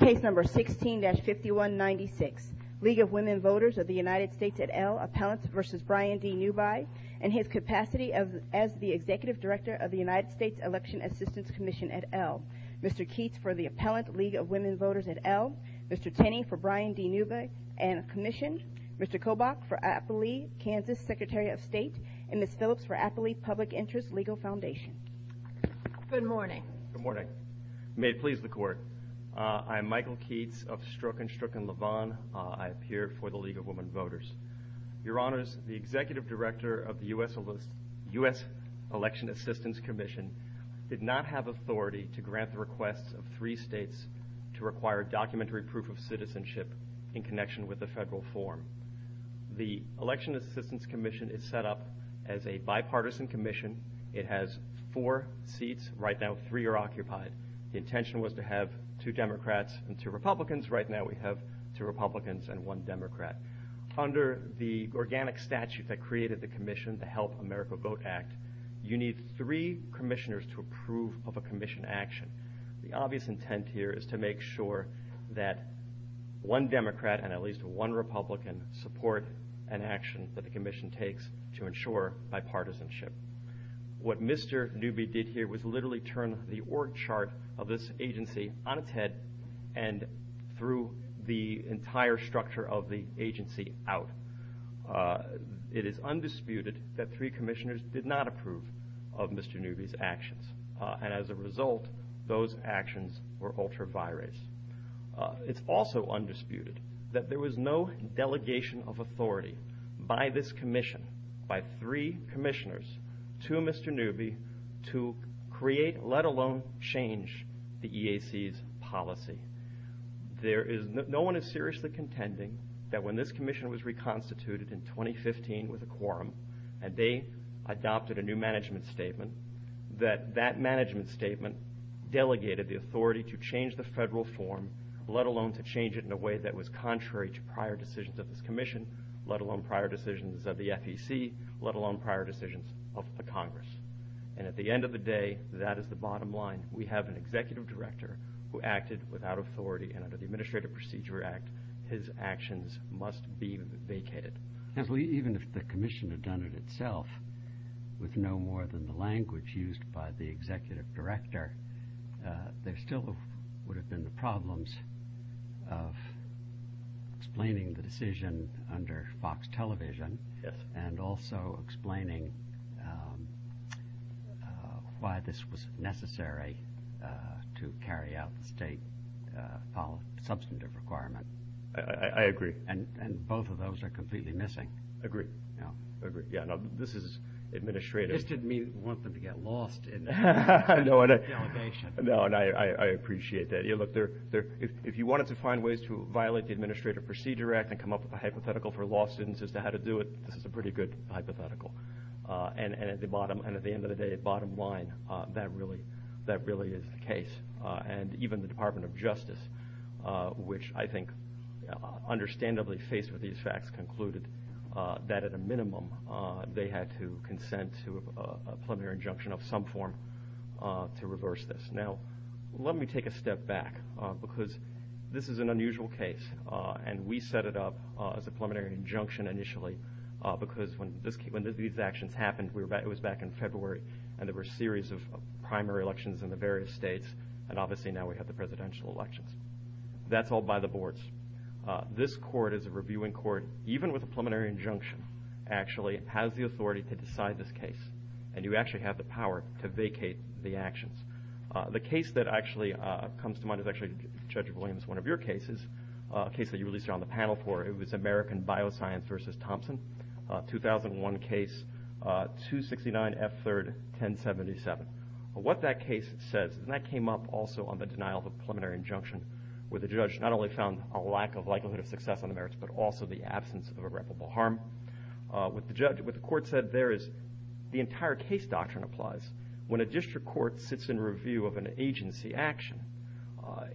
Case number 16-5196. League of Women Voters of the United States et al. Appellant v. Brian D. Newby and his capacity as the Executive Director of the United States Election Assistance Commission et al. Mr. Keats for the Appellant League of Women Voters et al. Mr. Tenney for Brian D. Newby and Commission. Mr. Kobach for AFL-E Kansas Secretary of State and Ms. Phillips for AFL-E Public Interest Legal Foundation. Good morning. Good morning. May it please the Court. I'm Michael Keats of Stroke and Stricken Lavon. I appear for the League of Women Voters. Your Honors, the Executive Director of the U.S. Election Assistance Commission did not have authority to grant the request of three states to require documentary proof of citizenship in connection with the federal form. The Election Assistance Commission is set up as a bipartisan commission. It has four seats. Right now three are occupied. The intention was to have two Democrats and two Republicans. Right now we have two Republicans and one Democrat. Under the organic statute that created the commission, the Help America Vote Act, you need three commissioners to approve of a commission action. The obvious intent here is to make sure that one Democrat and at least one Republican support an action that the commission takes to ensure bipartisanship. What Mr. Newby did here was literally turn the org chart of this agency on its head and threw the entire structure of the agency out. It is undisputed that three commissioners did not approve of Mr. Newby's actions. As a result, those actions were altered It is also undisputed that there was no delegation of authority by this commission, by three commissioners, to Mr. Newby to create, let alone change, the EAC's policy. No one is seriously contending that when this commission was reconstituted in 2015 with a quorum and they adopted a new statement, delegated the authority to change the federal form, let alone to change it in a way that was contrary to prior decisions of this commission, let alone prior decisions of the FEC, let alone prior decisions of the Congress. And at the end of the day, that is the bottom line. We have an executive director who acted without authority and under the Administrative Procedure Act, his actions must be vacated. Even if the commission had done it itself, with no more than the language used by the executive director, there still would have been the problems of explaining the decision under Fox Television and also explaining why this was necessary to carry out the state substantive requirement. I agree. And both of those are completely missing. Agreed. Yeah, this is administrative. This didn't mean we want them to get lost. No, and I appreciate that. Look, if you wanted to find ways to violate the Administrative Procedure Act and come up with a hypothetical for law students as to how to do it, that's a pretty good hypothetical. And at the end of the day, bottom line, that really is the case. And even the Department of Justice, which I think understandably faced with these facts, concluded that at a minimum they had to consent to a preliminary injunction of some form to reverse this. Now, let me take a step back, because this is an unusual case, and we set it up as a preliminary injunction initially, because when these actions happened, it was back in February, and there were a series of primary elections in the various states, and obviously now we have the presidential elections. That's all by the boards. This court is a reviewing court. Even with a preliminary injunction actually has the authority to decide this case, and you actually have the power to vacate the actions. The case that actually comes to mind is actually, Judge Williams, one of your cases, a case that you released on the panel for. It was American Bioscience v. Thompson, a 2001 case, 269 F3rd 1077. What that case says, and that came up also on the denial of a preliminary injunction, where the judge not only found a lack of likelihood of success on the merits, but also the absence of irreparable harm. What the court said there is, the entire case doctrine applies. When a district court sits in review of an agency action,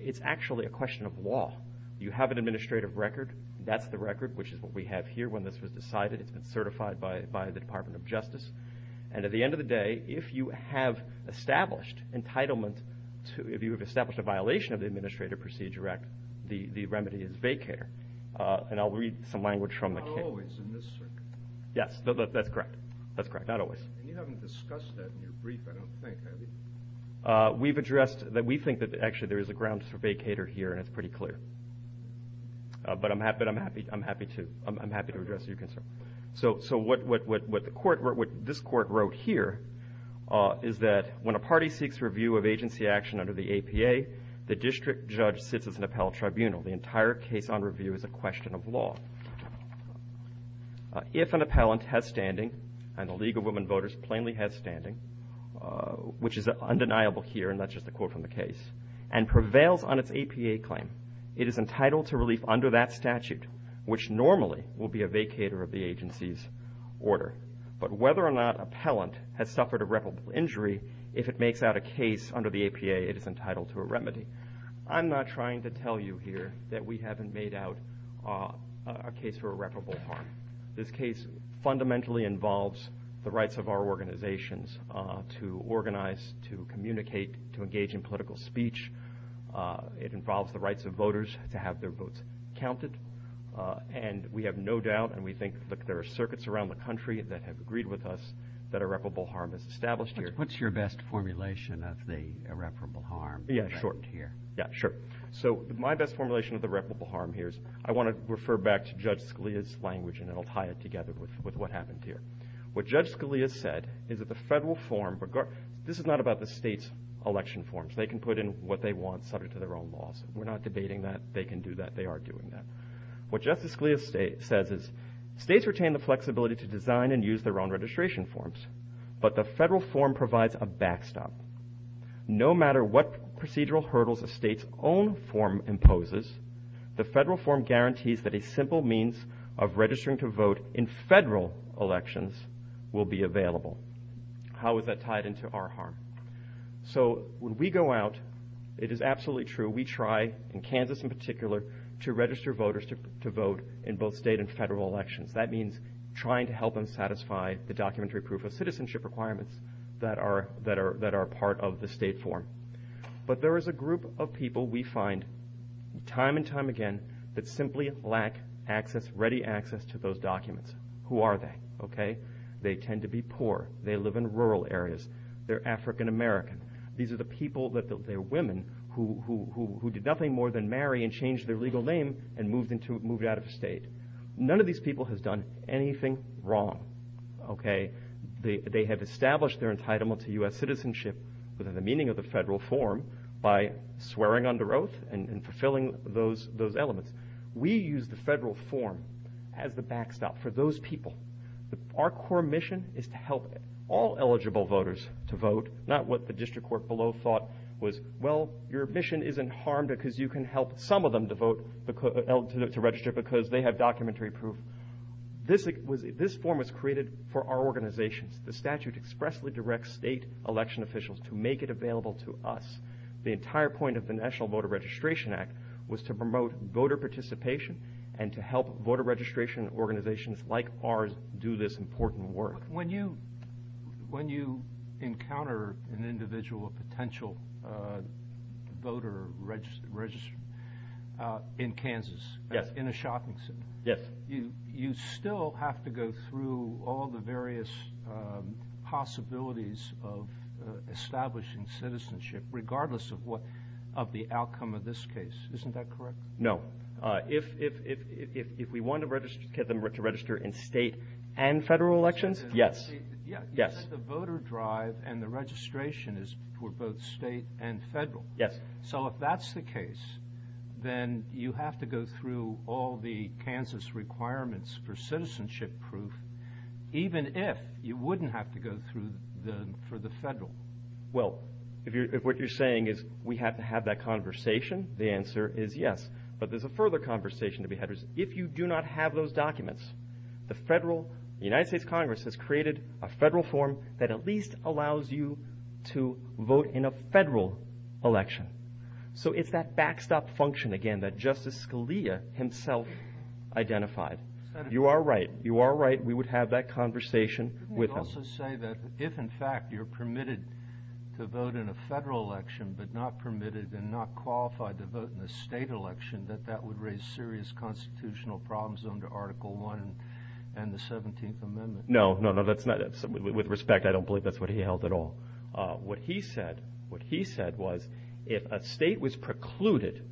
it's actually a question of law. You have an administrative record. That's the record, which is what we have here, when this was decided, certified by the Department of Justice, and at the end of the day, if you have established entitlement, if you have established a violation of the Administrative Procedure Act, the remedy is vacater. And I'll read some language from the case. Not always, in this circuit. Yes, that's correct. That's correct, not always. And you haven't discussed that in your brief, I don't think, have you? We've addressed, we think that actually there is a grounds for vacater here, and it's pretty clear. But I'm happy to address your concern. So what this court wrote here is that when a party seeks review of agency action under the APA, the district judge sits as an appellate tribunal. The entire case on review is a question of law. If an appellant has standing, and the League of Women Voters plainly has standing, which is undeniable here, and that's just a quote from the case, and prevails on its APA claim, it is entitled to relief under that statute, which normally will be a vacater of the agency's order. But whether or not appellant has suffered irreparable injury, if it makes out a case under the APA, it is entitled to a remedy. I'm not trying to tell you here that we haven't made out a case for irreparable harm. This case fundamentally involves the rights of our organizations to organize, to communicate, to engage in political speech. It involves the rights of voters to have their votes counted. And we have no doubt, and we think that there are circuits around the country that have agreed with us, that irreparable harm is established here. What's your best formulation of the irreparable harm? Yeah, sure. So my best formulation of the irreparable harm here is, I want to refer back to Judge Scalia's language, and it'll tie it together with what happens here. What Judge Scalia said is that the federal form, this is not about the state's election forms. They can put in what they want subject to their own laws. We're not debating that. They can do that. They are doing that. What Justice Scalia says is, states retain the flexibility to design and use their own registration forms, but the federal form provides a backstop. No matter what procedural hurdles a state's own form imposes, the federal form guarantees that a simple means of registering to vote in federal elections will be available. How is that tied into our harm? So when we go out, it is absolutely true. We try, in Kansas in particular, to register voters to the documentary proof of citizenship requirements that are part of the state form. But there is a group of people we find time and time again that simply lack ready access to those documents. Who are they? Okay? They tend to be poor. They live in rural areas. They're African American. These are the people, the women, who did nothing more than marry and change their legal name and move out of state. None of these people have done anything wrong. Okay? They have established their entitlement to U.S. citizenship within the meaning of the federal form by swearing under oath and fulfilling those elements. We use the federal form as the backstop for those people. Our core mission is to help all eligible voters to vote, not what the district court below thought was, well, your mission isn't harmed because you can help some of them to register because they have documentary proof. This form was created for our organization. The statute expressly directs state election officials to make it available to us. The entire point of the National Voter Registration Act was to promote voter participation and to help voter registration organizations like ours do this important work. When you encounter an individual potential voter registered in Kansas, in a shopping center, you still have to go through all the various possibilities of establishing citizenship regardless of the outcome of this case. No. If we want to get them to register in state and federal elections, yes. The voter drive and the registration is for both state and federal. So if that's the case, then you have to go through all the Kansas requirements for citizenship proof, even if you wouldn't have to go through them for the federal. Well, if what you're saying is we have to have that conversation, the answer is yes. But there's a further conversation to be had. If you do not have those documents, the United States Congress has created a federal form that at least allows you to vote in a federal election. So it's that backstop function again that Justice Scalia himself identified. You are right. You are right. We would have that conversation. We also say that if, in fact, you're permitted to vote in a federal election but not permitted and not qualified to vote in a state election, that that would raise serious constitutional problems under Article I and the 17th Amendment. No, no, no. That's not it. With respect, I don't believe that's what he held at all. What he said was if a state was precluded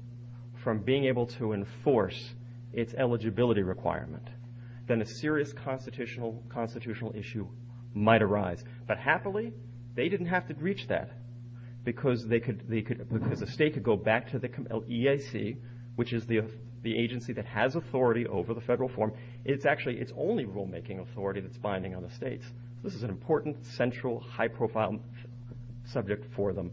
from being able to enforce its eligibility requirement, then a serious constitutional issue might arise. But happily, they didn't have to reach that because the state could go back to the EAC, which is the agency that has authority over the federal form. It's actually its only rulemaking authority that's binding on the states. This is an important, central, high-profile subject for them.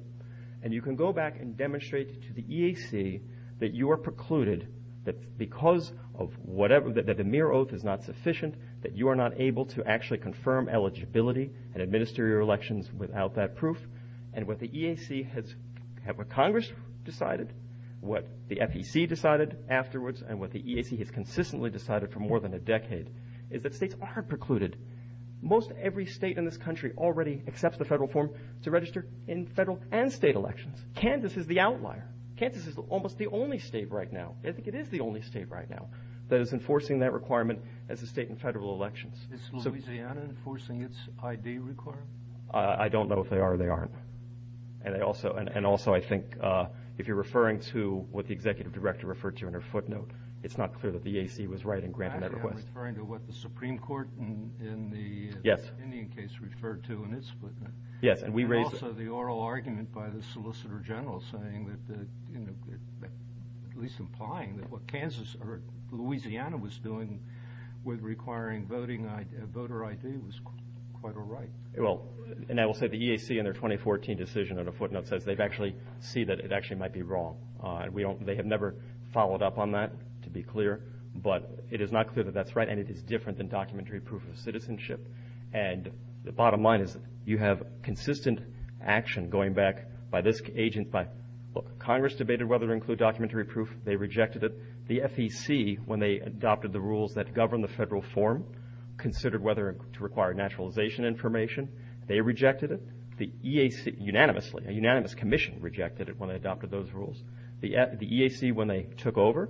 And you can go back and demonstrate to the EAC that you are precluded, that because of whatever, that the mere oath is not sufficient, that you are not able to actually confirm eligibility and administer your elections without that proof. And what the EAC has, what Congress decided, what the FEC decided afterwards, and what the EAC has consistently decided for more than a decade, is that states are precluded. Most every state in this country already accepts the federal form to register in federal and state elections. Kansas is the outlier. Kansas is almost the only state right now, I think it is the only state right now, that is enforcing that requirement as a state in federal elections. Is Louisiana enforcing its ID requirement? I don't know if they are or they aren't. And also, I think if you're referring to what the executive director referred to in her footnote, it's not clear that the EAC was right in granting that request. I'm referring to what the Supreme Court in the Indian case referred to in its footnote. And also the oral argument by the Solicitor General saying that, at least implying, that what Kansas or Louisiana was doing with requiring voter ID was quite a right. Well, and I will say the EAC in their 2014 decision in a footnote says they actually see that it actually might be wrong. They have never followed up on that, to be clear, but it is not clear that that's right and it is different than documentary proof of citizenship. And the bottom line is you have consistent action going back by this agent. Congress debated whether to include documentary proof. They rejected it. The FEC, when they adopted the rules that govern the federal form, considered whether to require naturalization information. They rejected it. The EAC, unanimously, a unanimous commission rejected it when they adopted those rules. The EAC, when they took over,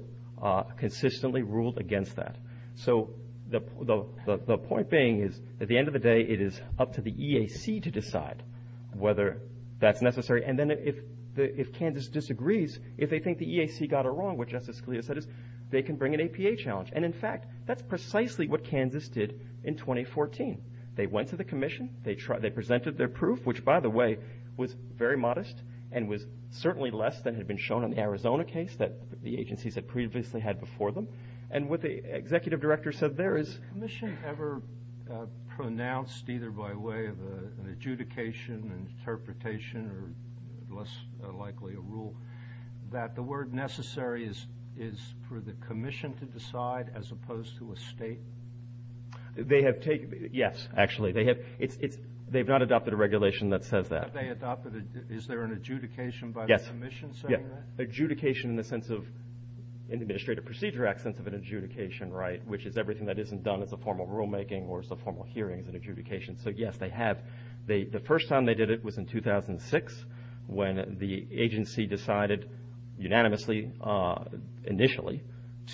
consistently ruled against that. So the point being is, at the end of the day, it is up to the EAC to decide whether that's necessary. And then if Kansas disagrees, if they think the EAC got it wrong, which Justice Scalia said, they can bring an APA challenge. And in fact, that's precisely what Kansas did in 2014. They went to the commission. They presented their proof, which, by the way, was very modest and was certainly less than had been shown in the Arizona case that the executive director said there is a commission ever pronounced either by way of an adjudication and interpretation, or less likely a rule, that the word necessary is for the commission to decide as opposed to a state. They have taken, yes, actually, they have not adopted a regulation that says that. Is there an adjudication by the commission saying that? Yes, adjudication in the Administrative Procedure Act sense of an adjudication, right, which is everything that isn't done as a formal rulemaking or as a formal hearing is an adjudication. So yes, they have. The first time they did it was in 2006, when the agency decided unanimously, initially,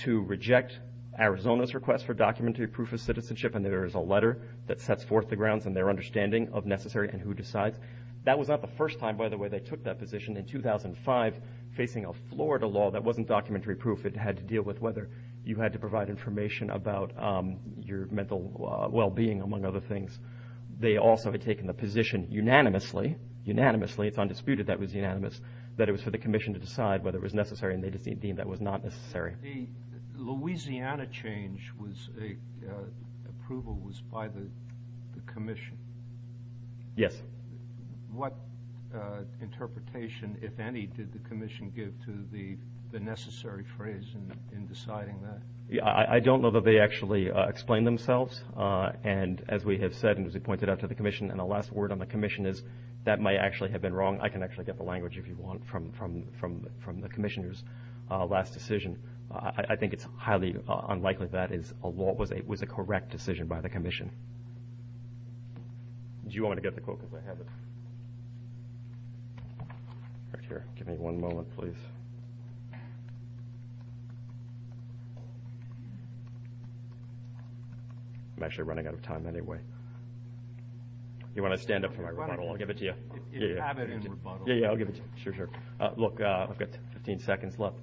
to reject Arizona's request for documentary proof of citizenship. And there is a letter that sets forth the grounds and their understanding of necessary and who decides. That was not the first time, by the way, they took that position in 2005, facing a Florida law that wasn't documentary proof. It had to deal with whether you had to provide information about your mental well-being, among other things. They also had taken the position unanimously, unanimously, it's undisputed that was unanimous, that it was for the commission to decide whether it was necessary and they just deemed that was not necessary. Louisiana change was, approval was by the commission. Yes. What interpretation, if any, did the commission give to the necessary phrase in deciding that? Yeah, I don't know that they actually explained themselves. And as we have said, and as we pointed out to the commission, and the last word on the commission is that might actually have been wrong. I can actually get the language if you want from the commissioners last decision. I think it's highly unlikely that it was a correct decision by the commission. Do you want me to get the quote because I have it? Right here. Give me one moment, please. I'm actually running out of time anyway. You want to stand up for the microphone, I'll give it to you. Yeah, yeah, I'll give it to you. Sure, sure. Look, I've got 15 seconds left.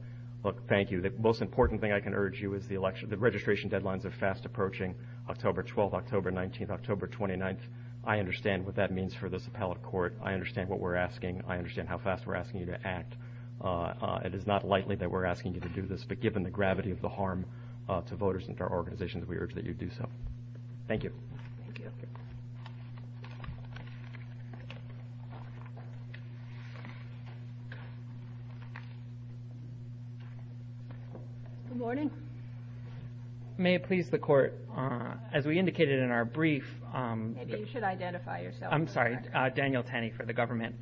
Look, thank you. The most important thing I can urge you is the election, deadlines are fast approaching October 12th, October 19th, October 29th. I understand what that means for this appellate court. I understand what we're asking. I understand how fast we're asking you to act. It is not likely that we're asking you to do this, but given the gravity of the harm to voters and for organizations, we urge that you do so. Thank you. Good morning. May it please the court, as we indicated in our brief... Maybe you should identify yourself. I'm sorry, Daniel Tanny for the government.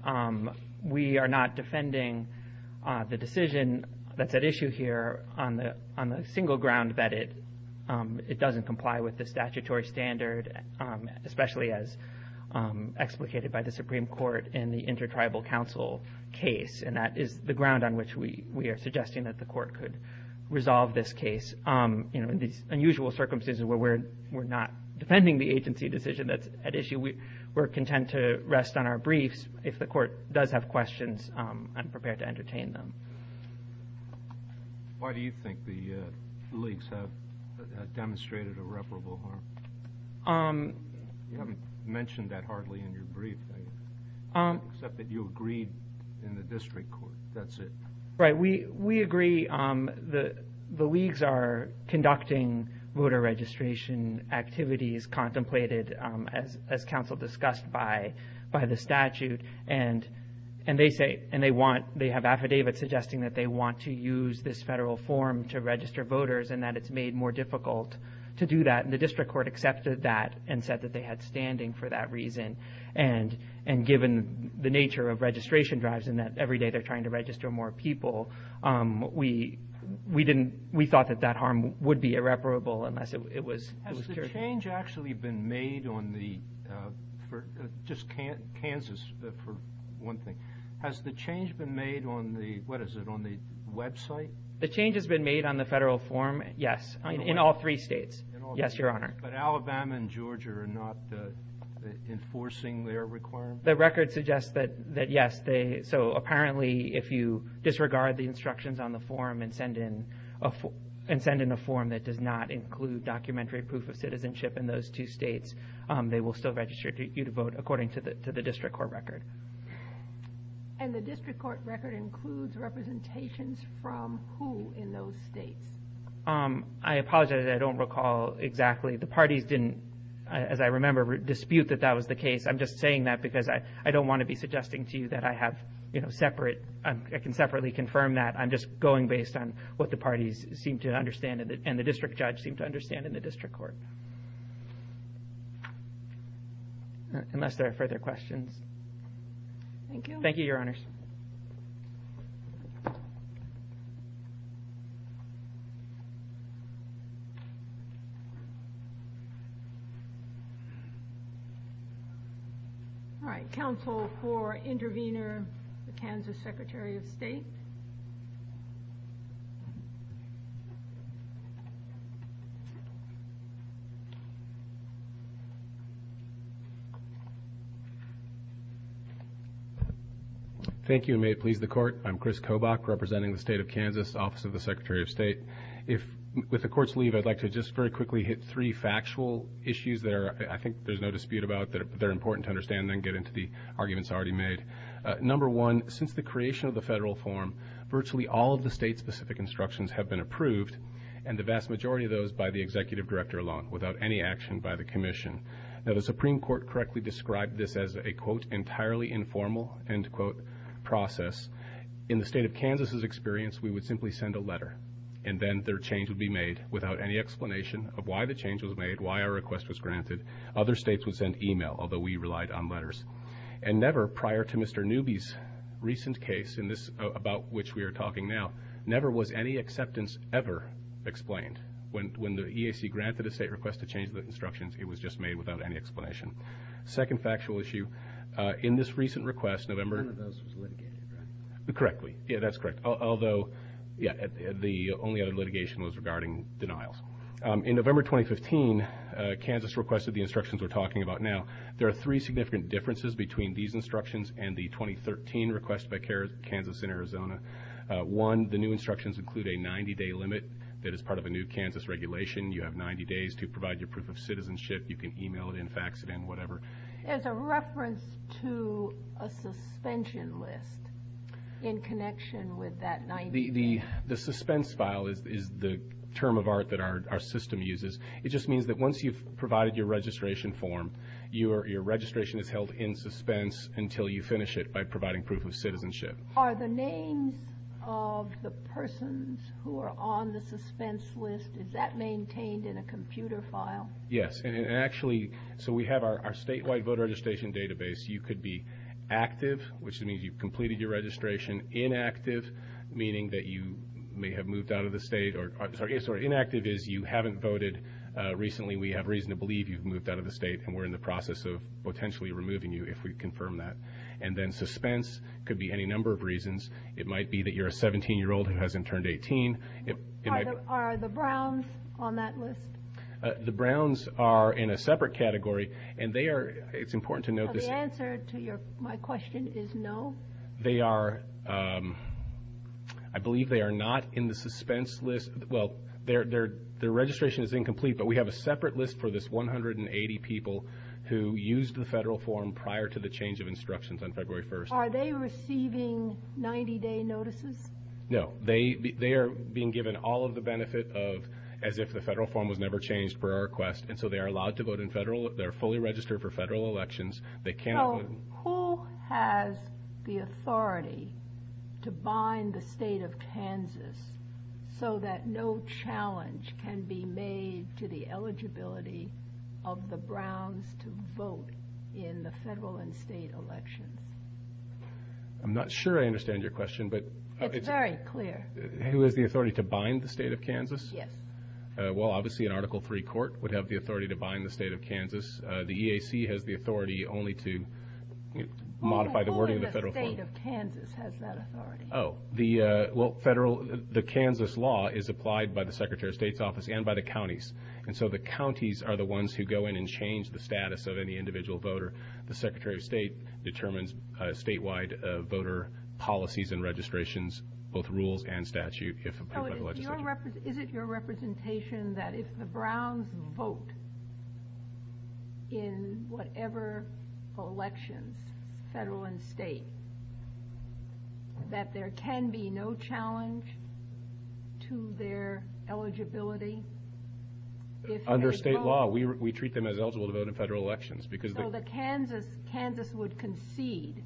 We are not defending the decision that's at issue here on the single ground that it doesn't comply with the statutory standard, especially as explicated by the Supreme Court in the Inter-Tribal Council case. And that is the ground on which we are suggesting that the court could resolve this case in these unusual circumstances where we're not defending the agency decision that's at issue. We're content to rest on our briefs. If the court does have questions, I'm prepared to entertain them. Why do you think the leagues have demonstrated irreparable harm? You haven't mentioned that hardly in your brief, except that you agreed in the district court. That's it. Right. We agree. The leagues are conducting voter registration activities contemplated as counsel discussed by the statute. And they have affidavits suggesting that they want to use this federal form to register voters and that it's made more difficult to do that. And the district court accepted that and said that they had standing for that reason. And given the nature of registration drives and that every day they're trying to register more people, we thought that harm would be irreparable. Has the change been made on the website? The change has been made on the federal form. Yes. In all three states. But Alabama and Georgia are not enforcing their requirements? The record suggests that yes. So apparently if you disregard the instructions on the form that does not include documentary proof of citizenship in those two states, they will still register you to vote according to the district court record. And the district court record includes representations from who in those states? I apologize. I don't recall exactly. The parties didn't, as I remember, dispute that that was the case. I'm just saying that because I don't want to be suggesting to you that I have separate, I can separately confirm that I'm just going based on what the parties seem to understand and the district judge seem to understand in the district court. Unless there are further questions. Thank you. Thank you, your honors. All right. Counsel for intervener, the Kansas Secretary of State. Thank you. May it please the court. I'm Chris Kobach representing the state of Kansas, office of the Secretary of State. If with the court's leave, I'd like to just very quickly hit three factual issues there. I think there's no dispute about that. They're important to understand and get into the arguments already made. Number one, since the creation of the all of the state specific instructions have been approved and the vast majority of those by the executive director alone, without any action by the commission that a Supreme Court correctly described this as a quote, entirely informal end quote process in the state of Kansas has experienced. We would simply send a letter and then their change would be made without any explanation of why the change was made, why our request was granted. Other states would send email, although we relied on letters and never prior to Mr. Newby's recent case in this about which we are talking now, never was any acceptance ever explained. When, when the EAC granted a state request to change the instructions, it was just made without any explanation. Second factual issue in this recent request, November. Correctly. Yeah, that's correct. Although yeah, the only other litigation was regarding denials. In November, 2015, Kansas requested the instructions we're talking about now. There are three significant differences between these instructions and the 2013 request by care, Kansas and Arizona. Uh, one, the new instructions include a 90 day limit that is part of a new Kansas regulation. You have 90 days to provide your proof of citizenship. You can email it and fax it and whatever. As a reference to a suspension list in connection with that, the, the, the suspense file is the term of art that our system uses. It just means that once you've provided your registration form, you are, your registration is held in suspense until you finish it by providing proof of citizenship. Are the names of the persons who are on the suspense list, is that maintained in a computer file? Yes. And actually, so we have our statewide voter registration database. You could be active, which means you've completed your registration. Inactive, meaning that you may have moved out of the state or I'm sorry, so inactive is you haven't voted. Uh, recently we have reason to believe you've moved out of the state and we're in the process of potentially removing you if we confirm that. And then suspense could be any number of reasons. It might be that you're a 17 year old who hasn't turned 18. Are the Browns on that list? Uh, the Browns are in a separate category and they are, it's important to know the answer to your, my question is no. They are, um, I believe they are not in the suspense list. Well, their, their, their registration is incomplete, but we have a separate list for this 180 people who used the federal form prior to the change of instructions on February 1st. Are they receiving 90 day notices? No, they, they are being given all of the benefit of, as if the federal form was never changed per our request. And so they are allowed to vote in federal, they're fully registered for federal elections. They can't. Who has the authority to bind the state of Kansas so that no challenge can be made to the eligibility of the Browns to vote in the federal and state elections? I'm not sure I understand your question, but it's very clear. Who has the authority to bind the state of Kansas? Yes. Well, obviously an article three court would have the authority to bind the state of Kansas. The EAC has the authority only to modify the wording of the federal state of Kansas has that authority. Oh, the, uh, well, federal, the Kansas law is applied by the secretary of state's office and by the counties. And so the counties are the ones who go in and change the status of any individual voter. The secretary of state determines a statewide voter policies and registrations, both rules and statute. Is it your representation that if the Browns vote, in whatever elections, federal and state, that there can be no challenge to their eligibility? Under state law, we, we treat them as eligible to vote in federal elections because the Kansas Kansas would concede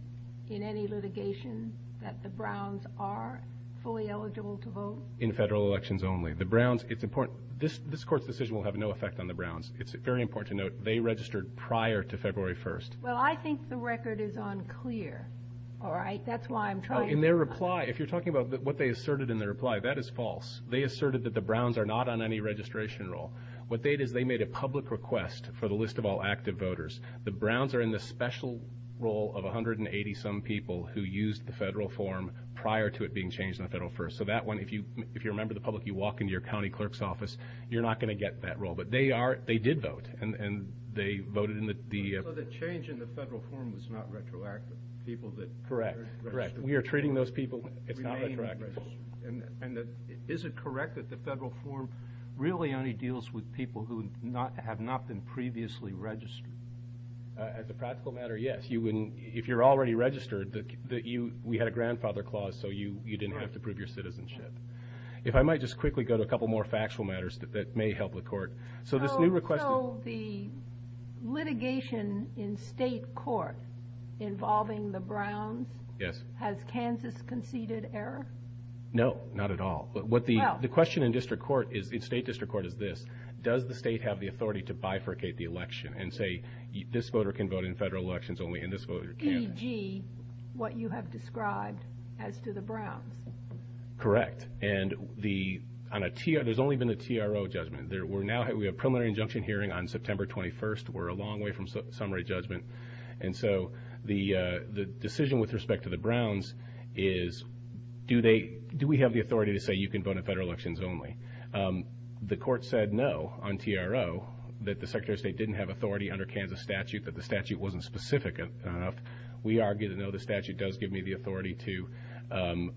in any litigation that the Browns are fully eligible to vote in federal elections only the Browns. It's important. This, this court decision will have no effect on the registered prior to February 1st. Well, I think the record is unclear. All right. That's why I'm trying to reply. If you're talking about what they asserted in their reply, that is false. They asserted that the Browns are not on any registration role. What they did, they made a public request for the list of all active voters. The Browns are in the special role of 180 some people who used the federal form prior to it being changed in the federal first. So that one, if you, if you remember the public, you walk into your county clerk's office, you're not going to get that role, but they are, they did vote and they voted in the, the, the change in the federal form was not retroactive. People that correct, correct. We are treating those people. It's not retroactive. And is it correct that the federal form really only deals with people who not have not been previously registered? As a practical matter? Yes. You wouldn't, if you're already registered, that you, we had a grandfather clause, so you, you didn't have to prove your citizenship. If I might just quickly go to a couple more factual matters that may help the court. So this new request. So the litigation in state court involving the Browns. Yes. Has Kansas conceded error? No, not at all. But what the, the question in district court is, in state district court is this, does the state have the authority to bifurcate the election and say this voter can vote in federal elections only and this voter can't? E.g. what you have described as to the Browns. Correct. And the, on a T, there's only been a TRO judgment there. We're now, we have preliminary injunction hearing on September 21st. We're a long way from summary judgment. And so the, the decision with respect to the Browns is, do they, do we have the authority to say you can vote in federal elections only? The court said no on TRO that the secretary of state didn't have authority under Kansas statute, that the statute wasn't specific enough. We argue that though the statute does give me the authority to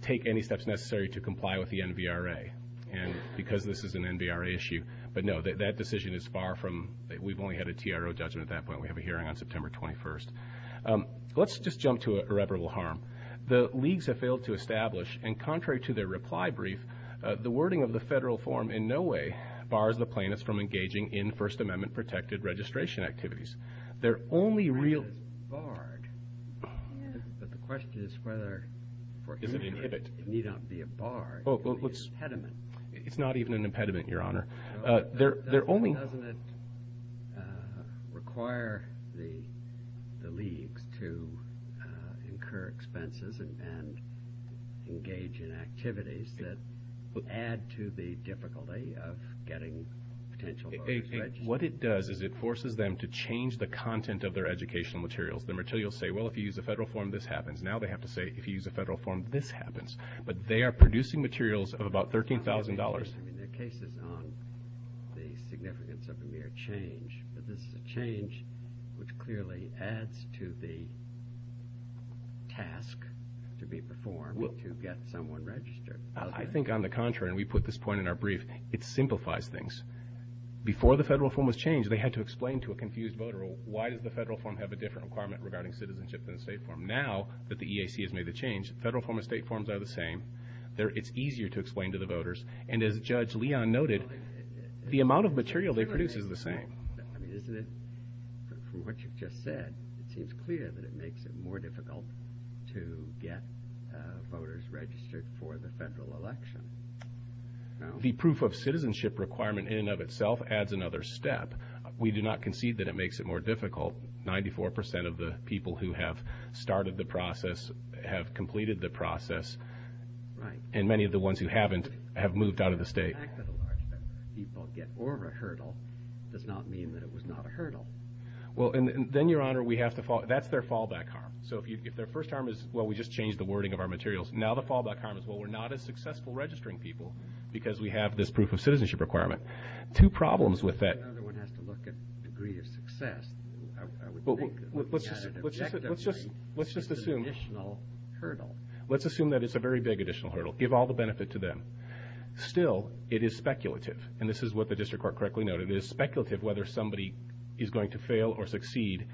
take any steps necessary to comply with the NBRA. And because this is an NBRA issue, but no, that decision is far from, we've only had a TRO judgment at that point. We have a hearing on September 21st. Let's just jump to irreparable harm. The leagues have failed to establish and contrary to their reply brief, the wording of the federal form in no way bars the plaintiffs from engaging in first amendment protected registration activities. They're only real. Barred. But the question is whether, can you not be a bar? It's not even an impediment, your honor. Uh, they're, they're only, uh, require the, the league to, uh, incur expenses and, and engage in activities that add to the difficulty of getting potential. What it does is it forces them to change the content of their educational materials. The materials say, well, if you use a federal form, this happens. Now they have to say, if you use a federal form, this happens, but they are producing materials of about $13,000. The case is not the significance of a mere change, but this is a change which clearly adds to the task to be performed to get someone registered. I think on the contrary, and we put this point in our brief, it simplifies things before the federal form was changed. They had to explain to a confused voter. Why does the federal form have a different requirement regarding citizenship than a state form? Now that the EAC has made a change, federal form of state forms are the same there. It's easier to explain to the voters. And as judge Leon noted, the amount of material they produce is the same. I mean, isn't it what you just said? It seems clear that it makes it more difficult to get voters registered for the federal election. The proof of citizenship requirement in and of itself adds another step. We do not concede that it makes it more difficult. Ninety-four percent of the people who have started the process have completed the process. Right. And many of the ones who haven't have moved out of the state. People get over a hurdle does not mean that it was not a hurdle. Well, and then, Your Honor, we have to fall. That's their fallback harm. So if their first harm is, well, we just changed the wording of our materials. Now the fallback harm is, well, we're not as successful registering people because we have this proof of citizenship requirement. Two problems with that. Another one has to look at degree of success. Let's just assume additional hurdle. Let's assume that it's a very big additional hurdle. Give all the benefit to them. Still, it is speculative. And this is what the district court correctly noted. It is speculative whether somebody is going to fail or succeed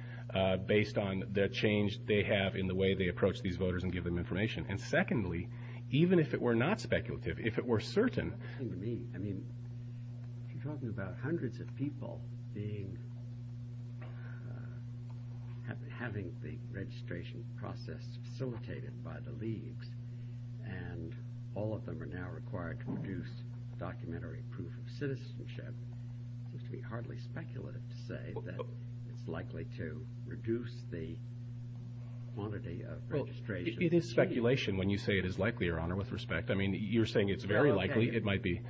based on the change they have in the way they approach these voters and give them information. And secondly, even if it were not speculative, if it were certain to me, I mean, you're talking about hundreds of people being having the registration process facilitated by the league. And all of them are now required to produce documentary proof of citizenship. It's to be hardly speculative to say that it's likely to reduce the quantity of registration. It is speculation when you say it is likely, Your Honor, with respect. I mean, you're saying it's very likely. It might be.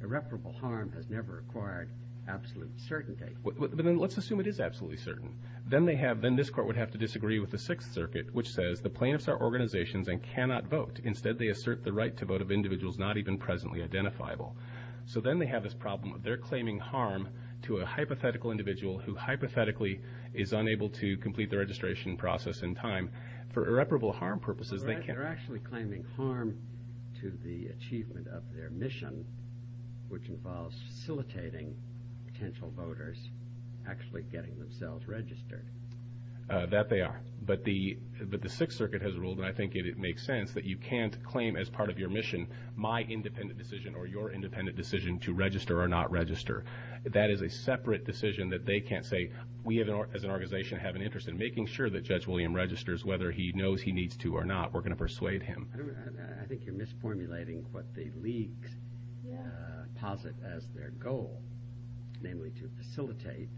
Irreparable harm has never required absolute certainty. Let's assume it is absolutely certain. Then they have, then this court would have to disagree with the Sixth Circuit, which says the right to vote of individuals not even presently identifiable. So then they have this problem where they're claiming harm to a hypothetical individual who hypothetically is unable to complete the registration process in time for irreparable harm purposes. They're actually claiming harm to the achievement of their mission, which involves facilitating potential voters actually getting themselves registered. That they are. But the Sixth Circuit has ruled, and I think it makes sense, that you can't claim as part of your mission, my independent decision or your independent decision to register or not register. That is a separate decision that they can't say we as an organization have an interest in making sure that Judge William registers, whether he knows he needs to or not. We're going to persuade him. I think you're misformulating what the league posits as their goal, namely to facilitate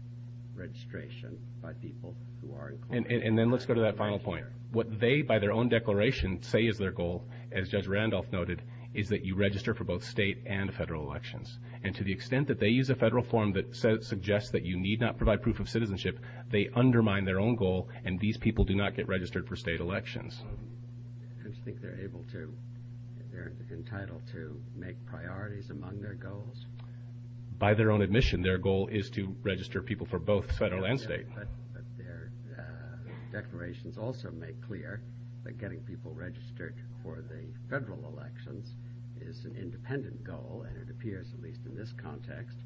registration by people who aren't. And then let's go to that final point. What they, by their own declaration, say is their goal, as Judge Randolph noted, is that you register for both state and federal elections. And to the extent that they use a federal form that suggests that you need not provide proof of citizenship, they undermine their own goal and these people do not get registered for state elections. Don't you think they're able to, they're entitled to make priorities among their goals? By their own admission, their goal is to register people for both federal and state. Declarations also make clear that getting people registered for the federal elections is an independent goal and it appears, at least in this context,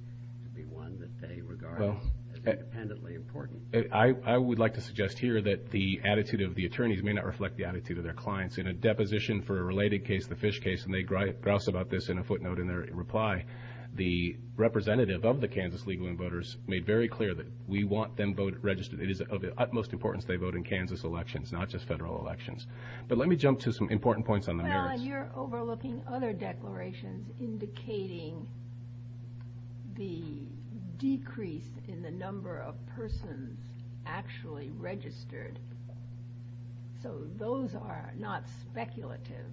to be one that they regard independently important. I would like to suggest here that the attitude of the attorneys may not reflect the attitude of their clients. In a deposition for a related case, the Fish case, and they grouse about this in a footnote in their reply, the representative of the vote in Kansas elections, not just federal elections. But let me jump to some important points on the merits. Now, you're overlooking other declarations indicating the decrease in the number of persons actually registered. So those are not speculative.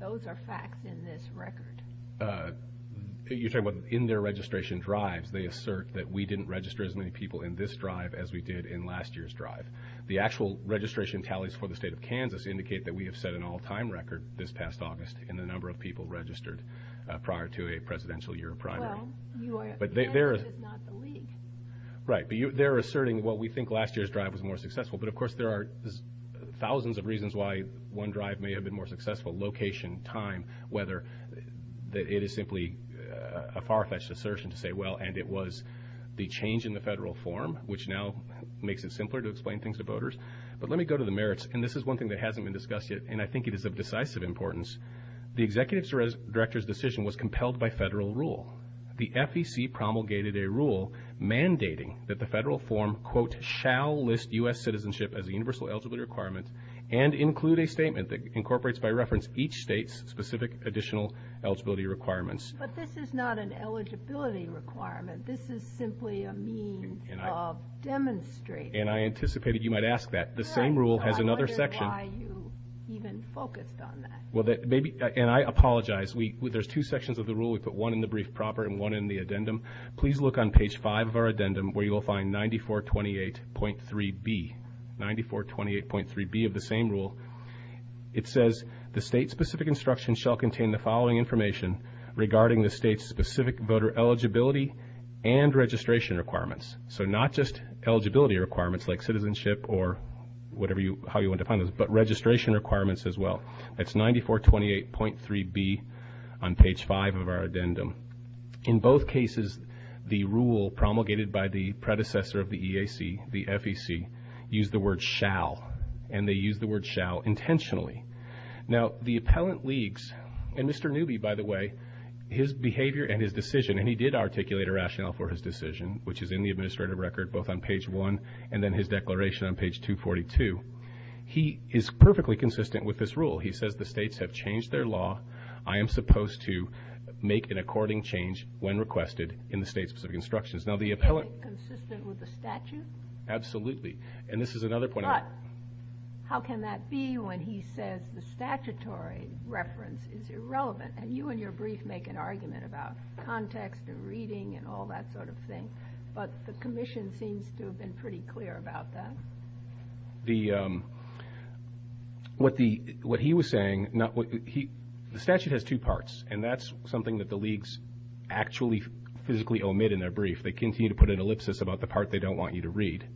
Those are facts in this record. You're talking about in their registration drive, they assert that we didn't register as many people in this drive as we did in last year's drive. The actual registration tallies for the state of Kansas indicate that we have set an all-time record this past August in the number of people registered prior to a presidential year in primary. Well, you are saying that it's not the league. Right. They're asserting what we think last year's drive was more successful. But of course, there are thousands of reasons why one drive may have been more successful, location, time, whether it is simply a far-fetched assertion to say, well, and it was the change in the federal form, which now makes it simpler to explain things to voters. But let me go to the merits. And this is one thing that hasn't been discussed yet, and I think it is of decisive importance. The executive director's decision was compelled by federal rule. The FEC promulgated a rule mandating that the federal form, quote, shall list U.S. citizenship as a universal eligibility requirement and include a statement that incorporates by reference each state's specific additional eligibility requirements. But this is not an eligibility requirement. This is simply a means of demonstrating. And I anticipated you might ask that. The same rule has another section. That is why you even focused on that. Well, and I apologize. There's two sections of the rule. We put one in the brief proper and one in the addendum. Please look on page five of our addendum, where you will find 9428.3b, 9428.3b of the same rule. It says the state specific instruction shall contain the following information regarding the state's specific voter eligibility and registration requirements. So not just eligibility requirements like citizenship or whatever you how you want to find this, but registration requirements as well. That's 9428.3b on page five of our addendum. In both cases, the rule promulgated by the predecessor of the EAC, the FEC, used the word shall, and they used the word shall intentionally. Now, the appellant leaks, and Mr. Newby, by the way, his behavior and his decision, and he did articulate a rationale for his decision, which is in the administrative record, both on page one and then his declaration on page 242. He is perfectly consistent with this rule. He says the states have changed their law. I am supposed to make an according change when requested in the state's instructions. Now, the appellant... Consistent with the statute? Absolutely. And this is another point... But how can that be when he says the statutory reference is irrelevant? And you and your brief make an argument about context and reading and all that sort of thing, but the commission seems to have been pretty clear about that. The... What the... What he was saying... The statute has two parts, and that's something that the leaks actually physically omit in their brief. They continue to put an ellipsis about the part they don't want you to read,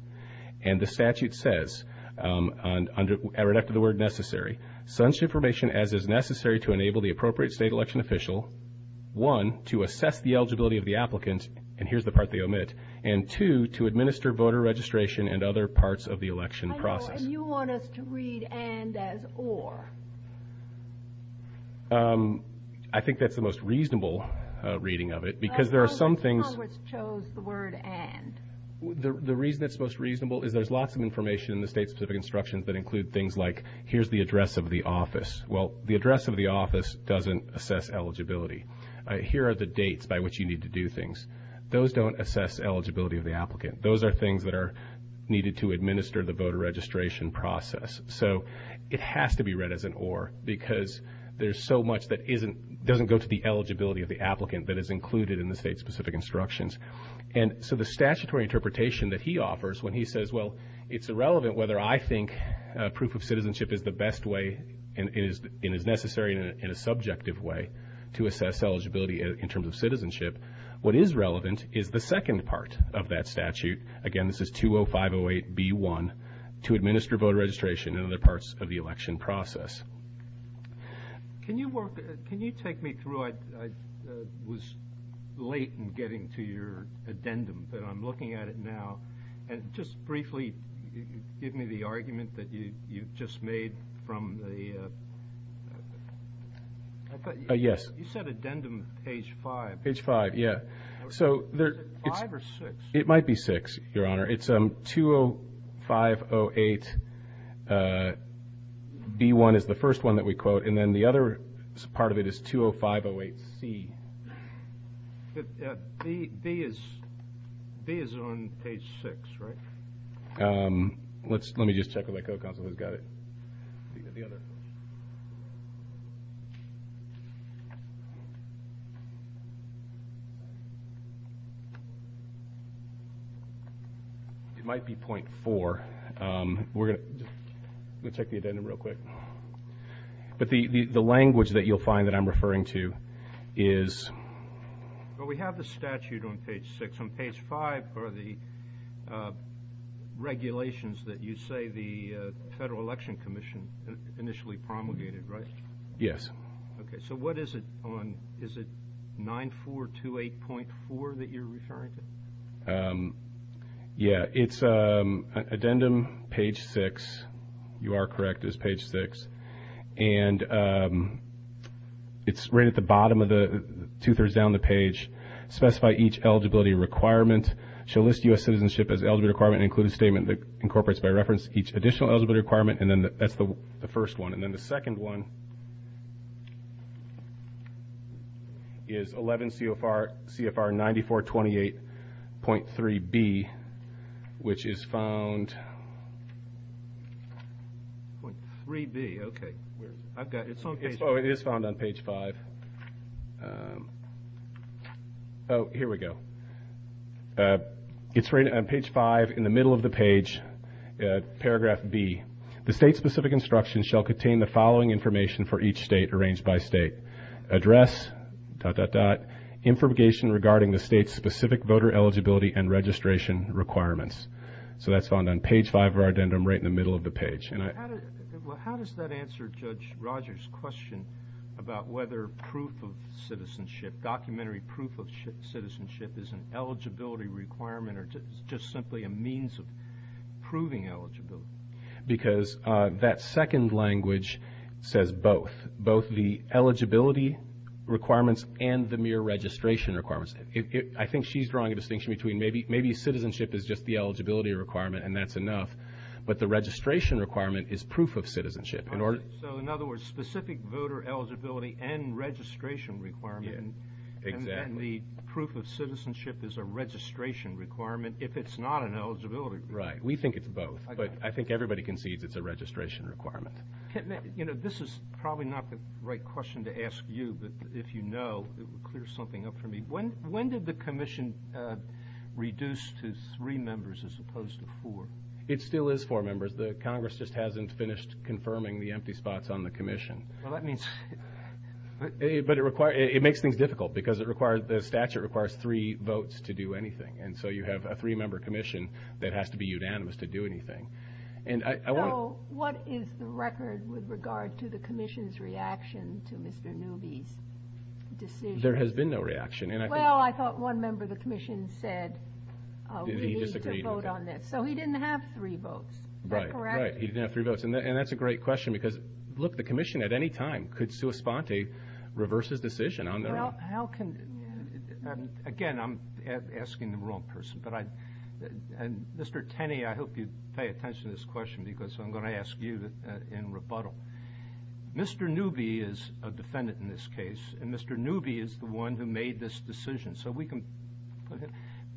and the statute says, right after the word necessary, sends information as is necessary to enable the appropriate state election official, one, to assess the eligibility of the applicant, and here's the part they omit, and two, to administer voter registration and other parts of the election process. And you want us to read and as or? I think that's the most reasonable reading of it, because there are some things... Congress chose the word and. The reason that's most reasonable is there's lots of information in the state's specific instructions that include things like, here's the address of the office. Well, the address of the office doesn't assess eligibility. Here are the dates by which you need to do things. Those don't assess eligibility of the applicant. Those are things that are needed to administer the voter registration process. So it has to be read as an or, because there's so much that isn't... Doesn't go to the eligibility of the applicant that is included in the state's specific instructions. And so the statutory interpretation that he offers when he says, well, it's irrelevant whether I think proof of citizenship is the best and is necessary in a subjective way to assess eligibility in terms of citizenship. What is relevant is the second part of that statute. Again, this is 20508B1, to administer voter registration and other parts of the election process. Can you take me through? I was late in getting to your addendum, but I'm looking at it now. And just briefly, give me the argument that you just made from the... Yes. You said addendum page five. Page five. Yeah. So there's... Five or six? It might be six, Your Honor. It's 20508B1 is the first one that we quote. And then the other part of it is 20508C. But B is on page six, right? Let me just check with my co-consultant. Got it. It might be point four. We'll check the addendum real quick. But the language that you'll find that I'm referring to is... Well, we have the statute on page six. On page five are the regulations that you say the Federal Election Commission initially promulgated, right? Yes. Okay. So what is it on... Is it 9428.4 that you're referring to? Yeah. It's addendum page six. You are correct. It's page six. And it's right at the bottom of the... Two-thirds down the page. Specify each eligibility requirement. Shall list U.S. citizenship as eligibility requirement and include a statement that incorporates by reference each additional eligibility requirement. And then that's the first one. And then the second one is 11 CFR 9428.3B, which is found... .3B. Okay. I've got it. It's on page... Oh, it is found on page five. Oh, here we go. It's right on page five in the middle of the page, paragraph B. The state-specific instructions shall contain the following information for each state arranged by state. Address, dot, dot, dot, information regarding the state-specific voter eligibility and registration requirements. So that's found on page five of our addendum, right in the middle of the page. Well, how does that answer Judge Rogers' question about whether documentary proof of citizenship is an eligibility requirement or just simply a means of proving eligibility? Because that second language says both. Both the eligibility requirements and the mere registration requirements. I think she's drawing a distinction between maybe citizenship is just the eligibility requirement and that's enough, but the registration requirement is proof of citizenship. So in other words, specific voter eligibility and registration requirement, and the proof of citizenship is a registration requirement if it's not an eligibility requirement. Right. We think it's both, but I think everybody can see that it's a registration requirement. You know, this is probably not the right question to ask you, but if you know, it would clear something up for me. When did the commission reduce to three members as opposed to four? It still is four members. The Congress just hasn't finished confirming the empty spots on the commission. But it makes things difficult because the statute requires three votes to do anything. And so you have a three-member commission that has to be unanimous to do anything. So what is the record with regard to the commission's reaction to Mr. Newby's decision? There has been no reaction. Well, I thought one member of the commission said we need to vote on that. So he didn't have three votes. Right. He didn't have three votes. And that's a great question because look, the commission at any time could sui sponte reverse his decision on their own. How can, again, I'm asking the wrong person, but I, and Mr. Tenney, I hope you pay attention to this question because I'm going to ask you in rebuttal. Mr. Newby is a defendant in this case, and Mr. Newby is the one who made this decision. So we can put it,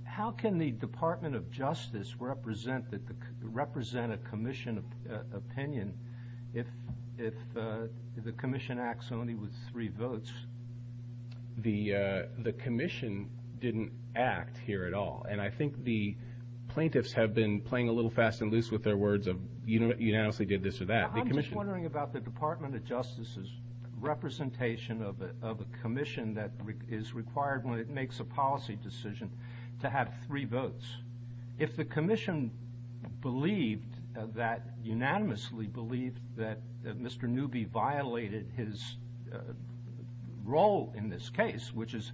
how can the Department of Justice represent a commission opinion if the commission acts only with three votes? The commission didn't act here at all. And I think the plaintiffs have been playing a little fast and loose with their words of, you know, you have to get this or that. I'm just wondering about the Department of Justice's representation of a commission that is required when it makes a policy decision to have three votes. If the commission believed that, unanimously believed that Mr. Newby violated his role in this case, which is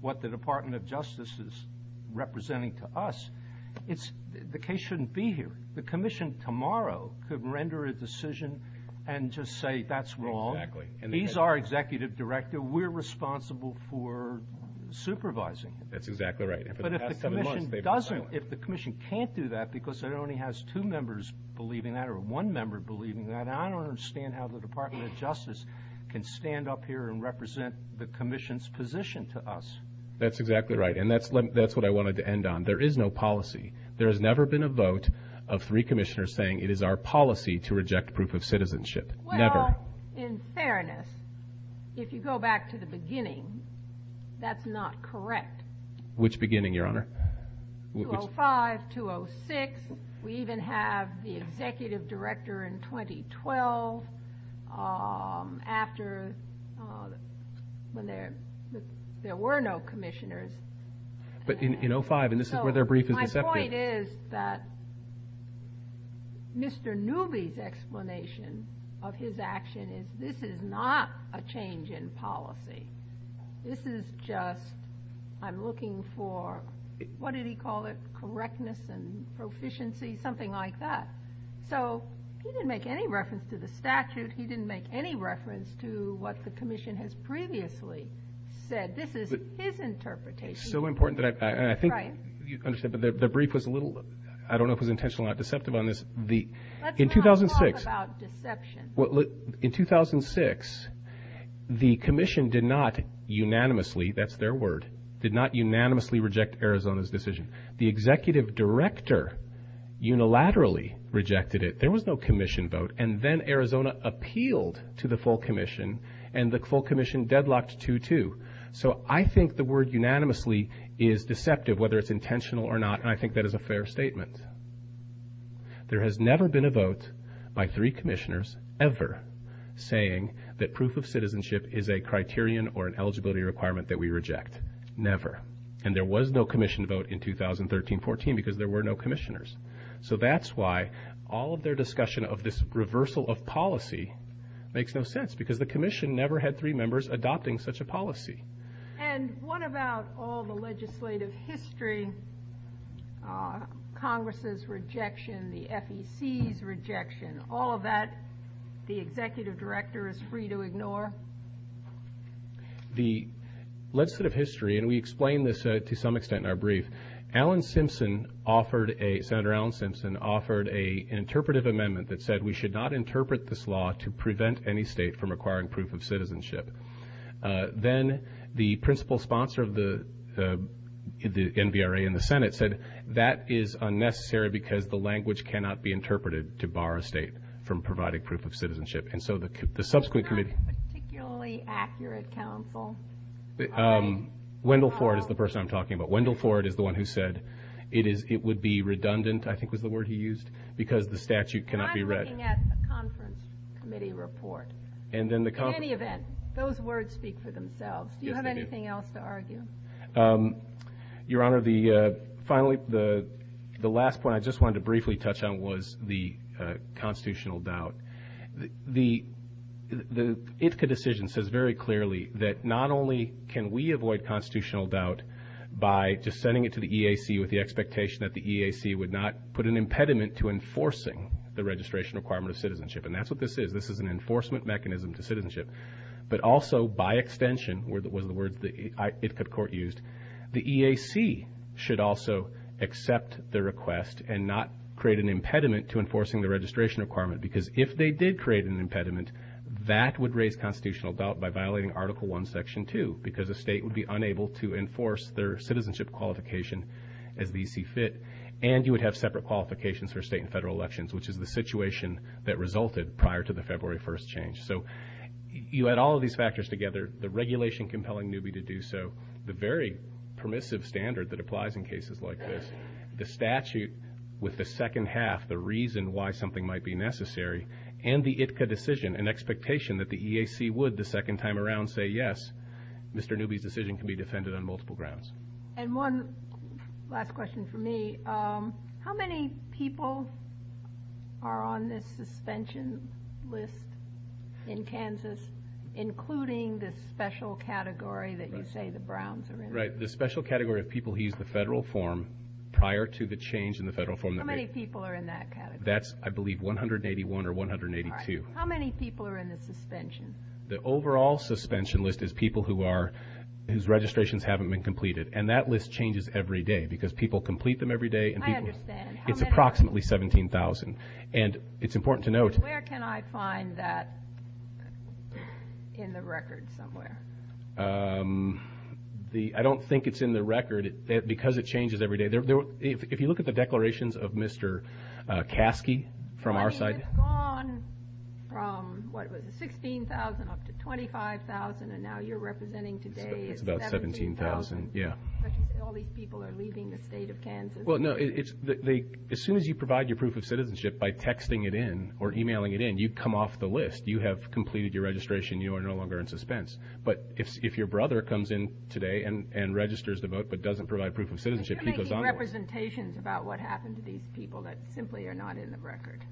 what the Department of Justice is representing to us, it's, the case shouldn't be here. The commission tomorrow could render a decision to say that's wrong. These are executive director. We're responsible for supervising. That's exactly right. But if the commission doesn't, if the commission can't do that because it only has two members believing that or one member believing that, I don't understand how the Department of Justice can stand up here and represent the commission's position to us. That's exactly right. And that's what I wanted to end on. There is no policy. There has never been a vote of three commissioners saying it is our policy to reject proof of never. In fairness, if you go back to the beginning, that's not correct. Which beginning, Your Honor? 2005, 2006. We even have the executive director in 2012 after when there were no commissioners. But in, in 05, and this is where their brief is. My point is that Mr. Newby's of his action is this is not a change in policy. This is just, I'm looking for, what did he call it? Correctness and proficiency, something like that. So he didn't make any reference to the statute. He didn't make any reference to what the commission has previously said. This is his interpretation. It's so important that I, I think you understand, but the brief was a little, I don't know if it was intentional or deceptive on this. The, in 2006, in 2006, the commission did not unanimously, that's their word, did not unanimously reject Arizona's decision. The executive director unilaterally rejected it. There was no commission vote. And then Arizona appealed to the full commission and the full commission deadlocked 2-2. So I think the word unanimously is deceptive, whether it's intentional or not. And I think that is a fair statement. There has never been a vote by three commissioners ever saying that proof of citizenship is a criterion or an eligibility requirement that we reject. Never. And there was no commission vote in 2013-14 because there were no commissioners. So that's why all of their discussion of this reversal of policy makes no sense because the commission never had three members adopting such a policy. And what about all the legislative history, Congress's rejection, the FEC's rejection, all of that the executive director is free to ignore? The legislative history, and we explained this to some extent in our brief, Alan Simpson offered a, Senator Alan Simpson offered a interpretive amendment that said we should not interpret this law to prevent any state from acquiring proof of citizenship. Then the principal sponsor of the NBRA in the Senate said that is unnecessary because the language cannot be interpreted to bar a state from providing proof of citizenship. And so the subsequent committee... Is that a particularly accurate counsel? Wendell Ford is the person I'm talking about. Wendell Ford is the one who said it is, it would be redundant, I think was the word he used, because the statute cannot be read. I'm looking at the conference committee report. In any event, those words speak for themselves. Do you have anything else to argue? Your Honor, the, finally, the last point I just wanted to briefly touch on was the constitutional doubt. The IFCA decision says very clearly that not only can we avoid constitutional doubt by just sending it to the EAC with the expectation that the EAC would not put an impediment to enforcing the registration requirement of citizenship. And that's what this is. This is an enforcement mechanism to citizenship. But also, by extension, was the word the IFCA court used, the EAC should also accept the request and not create an impediment to enforcing the registration requirement. Because if they did create an impediment, that would raise constitutional doubt by violating Article I, Section 2, because the state would be unable to enforce their citizenship qualification as BC fit. And you would have separate qualifications for state and federal elections, which is the situation that resulted prior to the February 1st change. So you add all of these factors together, the regulation compelling Newby to do so, the very permissive standard that applies in cases like this, the statute with the second half, the reason why something might be necessary, and the IFCA decision, an expectation that the EAC would the second time around say, yes, Mr. Newby's decision can be defended on multiple grounds. And one last question for me. How many people are on the suspension list in Kansas, including the special category that you say the Browns are in? Right. The special category of people who use the federal form prior to the change in the federal form. How many people are in that category? That's, I believe, 181 or 182. How many people are in the suspension? The overall suspension list is people who are, whose registrations haven't been completed. And that list changes every day because people complete them every day and people... I understand. It's approximately 17,000. And it's important to note... Where can I find that in the record somewhere? I don't think it's in the record because it changes every day. If you look at the declarations of Mr. Caskey from our side... He's gone from, what was it, 16,000 up to 25,000, and now you're representing today 17,000. It's about 17,000, yeah. All these people are leaving the state of Kansas. Well, no. As soon as you provide your proof of citizenship by texting it in or emailing it in, you've come off the list. You have completed your registration. You are no longer in suspense. But if your brother comes in today and registers the vote but doesn't provide proof of citizenship, he goes on... Making representations about what happened to these people that simply are not in the record.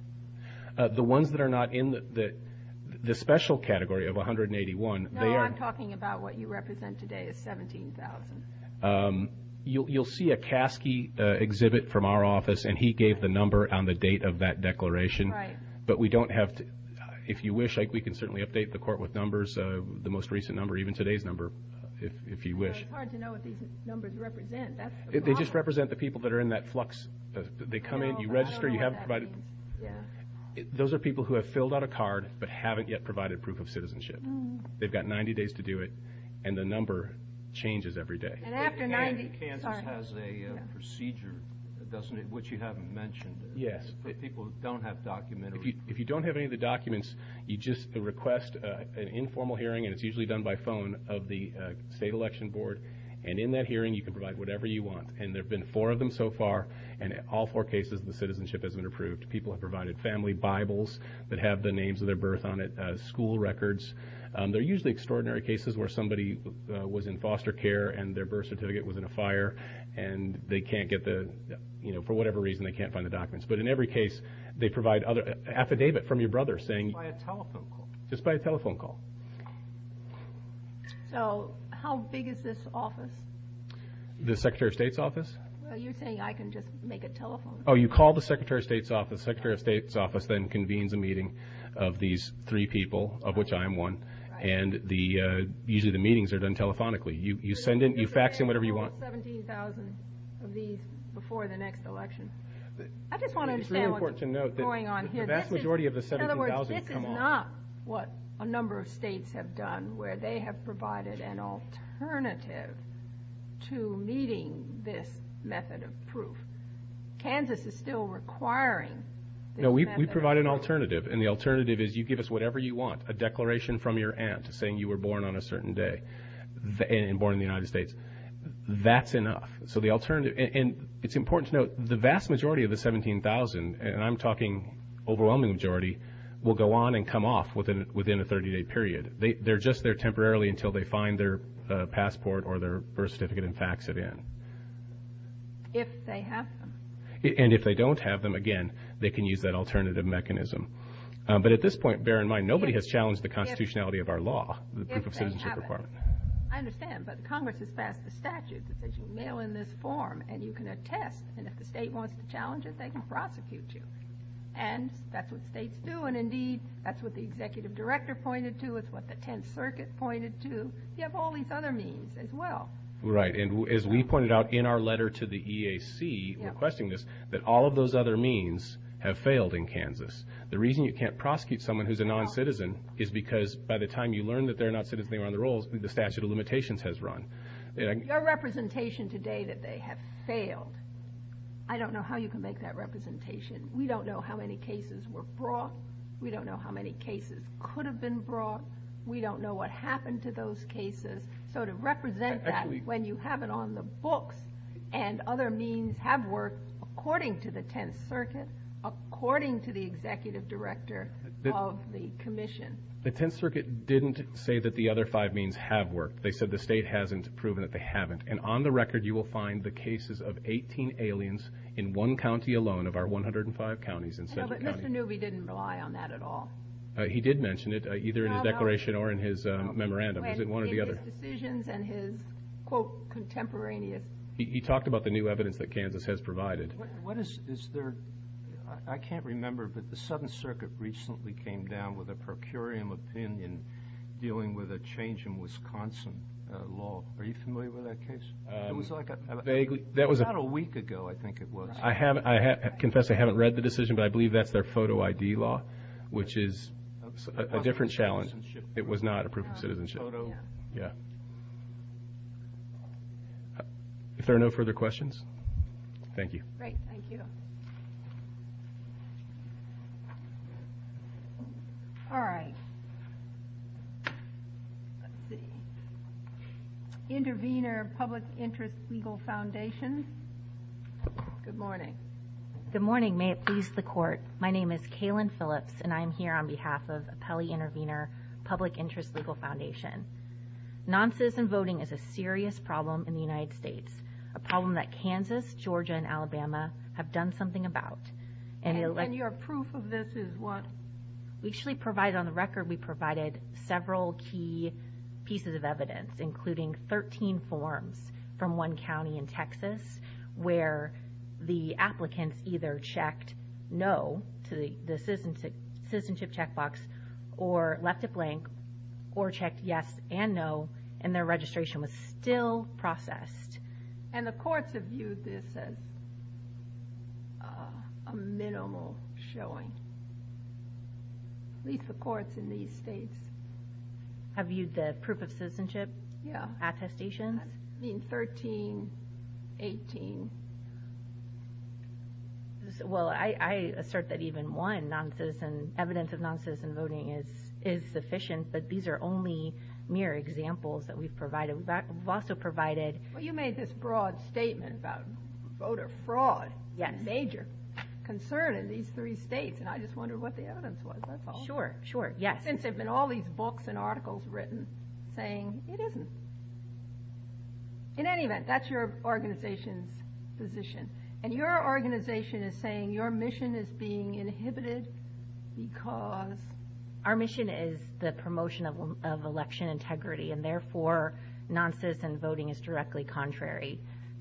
The ones that are not in the special category of 181... No, I'm talking about what you represent today is 17,000. You'll see a Caskey exhibit from our office, and he gave the number on the date of that declaration. Right. But we don't have... If you wish, we can certainly update the court with numbers, the most recent number, even today's number, if you wish. It's hard to know what these numbers represent. They just represent the people that are in that flux. They come in, you register, you have provided... Those are people who have filled out a card but haven't yet provided proof of citizenship. They've got 90 days to do it, and the number changes every day. And after 90... Kansas has a procedure, doesn't it, which you haven't mentioned. Yes. People don't have document... If you don't have any of the documents, you just request an informal hearing, and it's usually done by phone, of the state election board. And in that hearing, you can provide whatever you want. And there have been four of them so far, and all four cases, the citizenship has been approved. People have provided family bibles that have the names of their birth on it, school records. They're usually extraordinary cases where somebody was in foster care and their birth certificate was in a fire, and they can't get the... For whatever reason, they can't find the documents. But in every case, they provide other affidavit from your brother saying... By a telephone call. Just by a telephone call. So how big is this office? The Secretary of State's office? Well, you're saying I can just make a telephone... Oh, you call the Secretary of State's office. The Secretary of State's office then convenes a meeting of these three people, of which I am one. And the... Usually the meetings are done telephonically. You send in... You fax in whatever you want. ...17,000 of these before the next election. I just want to understand what's going on here. It's really important to note that the vast majority of the 17,000 come on... In other words, this is not what a number of states have done, where they have provided an method of proof. Kansas is still requiring... No, we provide an alternative. And the alternative is you give us whatever you want. A declaration from your aunt saying you were born on a certain day and born in the United States. That's enough. So the alternative... And it's important to note, the vast majority of the 17,000, and I'm talking overwhelming majority, will go on and come off within a 30-day period. They're just there temporarily until they find their passport or their birth certificate and leave. If they have them. And if they don't have them, again, they can use that alternative mechanism. But at this point, bear in mind, nobody has challenged the constitutionality of our law, the Proof of Citizenship Department. I understand, but Congress has passed a statute that says you mail in this form, and you can attest. And if the state wants to challenge it, they can prosecute you. And that's what states do. And indeed, that's what the executive director pointed to, it's what the 10th Circuit pointed to. You have all these other means as well. Right. And as we pointed out in our letter to the EAC requesting this, that all of those other means have failed in Kansas. The reason you can't prosecute someone who's a non-citizen is because by the time you learn that they're a non-citizen and they're on the rolls, the statute of limitations has run. Your representation today that they have failed, I don't know how you can make that representation. We don't know how many cases were brought. We don't know how many cases could have been brought. We don't know what happened to those cases. So to represent that when you have it on the books and other means have worked, according to the 10th Circuit, according to the executive director of the commission. The 10th Circuit didn't say that the other five means have worked. They said the state hasn't proven that they haven't. And on the record, you will find the cases of 18 aliens in one county alone of our 105 counties in Central County. But Mr. Newby didn't rely on that at all. He did mention it either in his declaration or in his memorandum. He talked about the new evidence that Kansas has provided. I can't remember, but the 7th Circuit recently came down with a per curiam opinion dealing with a change in Wisconsin law. Are you familiar with that case? Not a week ago, I think it was. I confess I haven't read the decision, but I believe that's their photo ID law, which is a different challenge. It was not a proof of citizenship. Yeah. Is there no further questions? Thank you. Great. Thank you. All right. Let's see. Intervenor Public Interest Legal Foundation. Good morning. Good morning. May it please the court. My name is Kaylin Phillips, and I am here on Non-citizen voting is a serious problem in the United States, a problem that Kansas, Georgia, and Alabama have done something about. And your proof of this is what? We actually provided on the record, we provided several key pieces of evidence, including 13 forms from one county in Texas, where the applicants either checked no to the citizenship checkbox, or left it blank, or checked yes and no, and their registration was still processed. And the courts have used this as a minimal showing. At least the courts in these states. Have used the proof of citizenship? Yeah. Attestation? In 13, 18. Well, I assert that even one evidence of non-citizen voting is sufficient, but these are only mere examples that we've provided. We've also provided... You made this broad statement about voter fraud, yet major concern in these three states, and I just wonder what the evidence was. That's all. Sure. Sure. Yes. All these books and articles written saying it isn't. In any event, that's your organization's position. And your organization is saying your mission is being inhibited because... Our mission is the promotion of election integrity, and therefore, non-citizen voting is directly contrary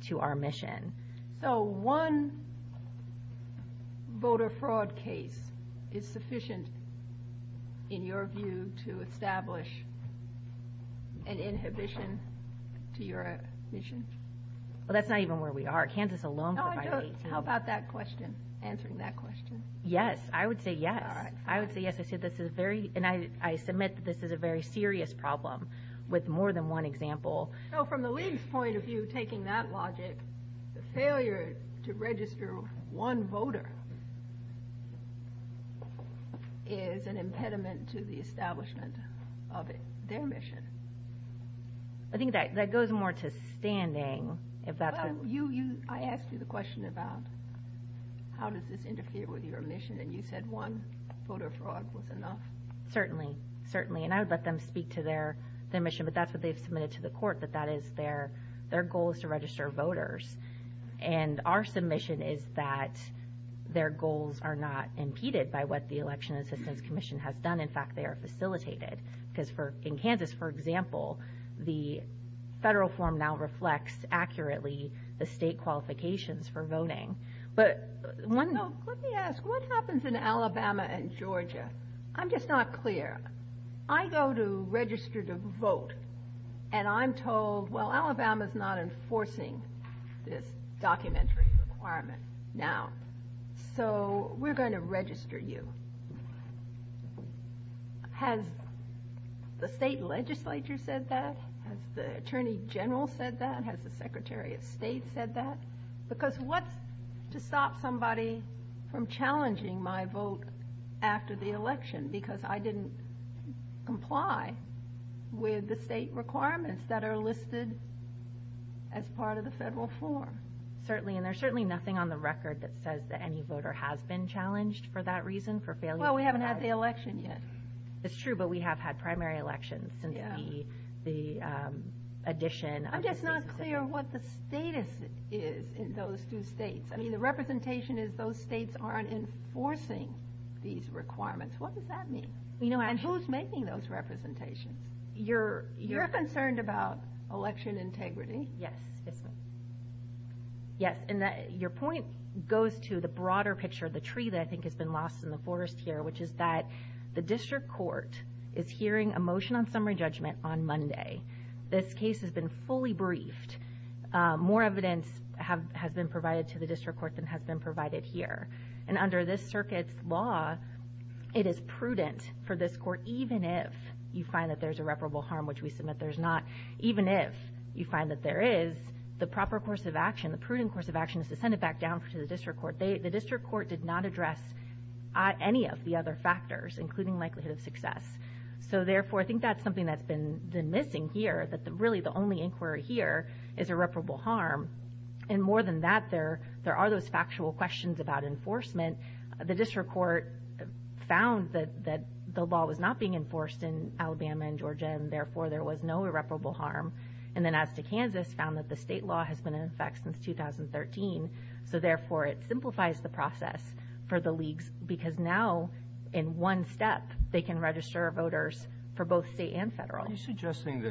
to our mission. So one voter fraud case is sufficient, in your view, to establish an inhibition to your mission? Well, that's not even where we are. Kansas alone... No, I'm just... How about that question? Answering that question? Yes. I would say yes. All right. I would say yes. I said this is very... And I submit that this is a very serious problem with more than one example. So from the league's point of view, taking that logic, the failure to register one voter is an impediment to the establishment of their mission. I think that goes more to standing. I asked you the question about how does this interfere with your mission, and you said one voter fraud was enough. Certainly. Certainly. And I would let them speak to their mission, but that's what they've submitted to the court, that that is their goal is to register voters. And our submission is that their goals are not impeded by what the Election Assistance Commission has done. In fact, they are facilitated. Because in Kansas, for example, the federal form now reflects accurately the state qualifications for voting. But one... So let me ask, what happens in Alabama and Georgia? I'm just not clear. I go to register to vote, and I'm told, well, Alabama's not enforcing this documentary requirement now, so we're going to register you. Has the state legislature said that? Has the Attorney General said that? Has the Secretary of State said that? Because what's to stop somebody from challenging my vote after the election? Because I didn't comply with the state requirements that are listed as part of the federal form. Certainly. And there's certainly nothing on the record that says that any voter has been challenged for that reason, for failure to... Well, we haven't had the election yet. It's true, but we have had primary elections and the addition... I'm just not clear what the status is in those two states. I mean, representation is those states aren't enforcing these requirements. What does that mean? You know, and who's making those representations? You're concerned about election integrity. Yes. Yes. And your point goes to the broader picture, the tree that I think has been lost in the forest here, which is that the district court is hearing a motion on summary judgment on Monday. This case has been fully briefed. More evidence has been provided to the district court than has been provided here. And under this circuit's law, it is prudent for this court, even if you find that there's irreparable harm, which we submit there's not, even if you find that there is, the proper course of action, the prudent course of action is to send it back down to the district court. The district court did not address any of the other factors, including likelihood of success. So therefore, I think that's something that's been missing here, that really the only inquiry here is irreparable harm. And more than that, there are those factual questions about enforcement. The district court found that the law was not being enforced in Alabama and Georgia, and therefore there was no irreparable harm. And then as to Kansas, found that the state law has been in effect since 2013. So therefore, it simplifies the process for the leagues, because now in one step, they can register voters for both state and federal. Are you suggesting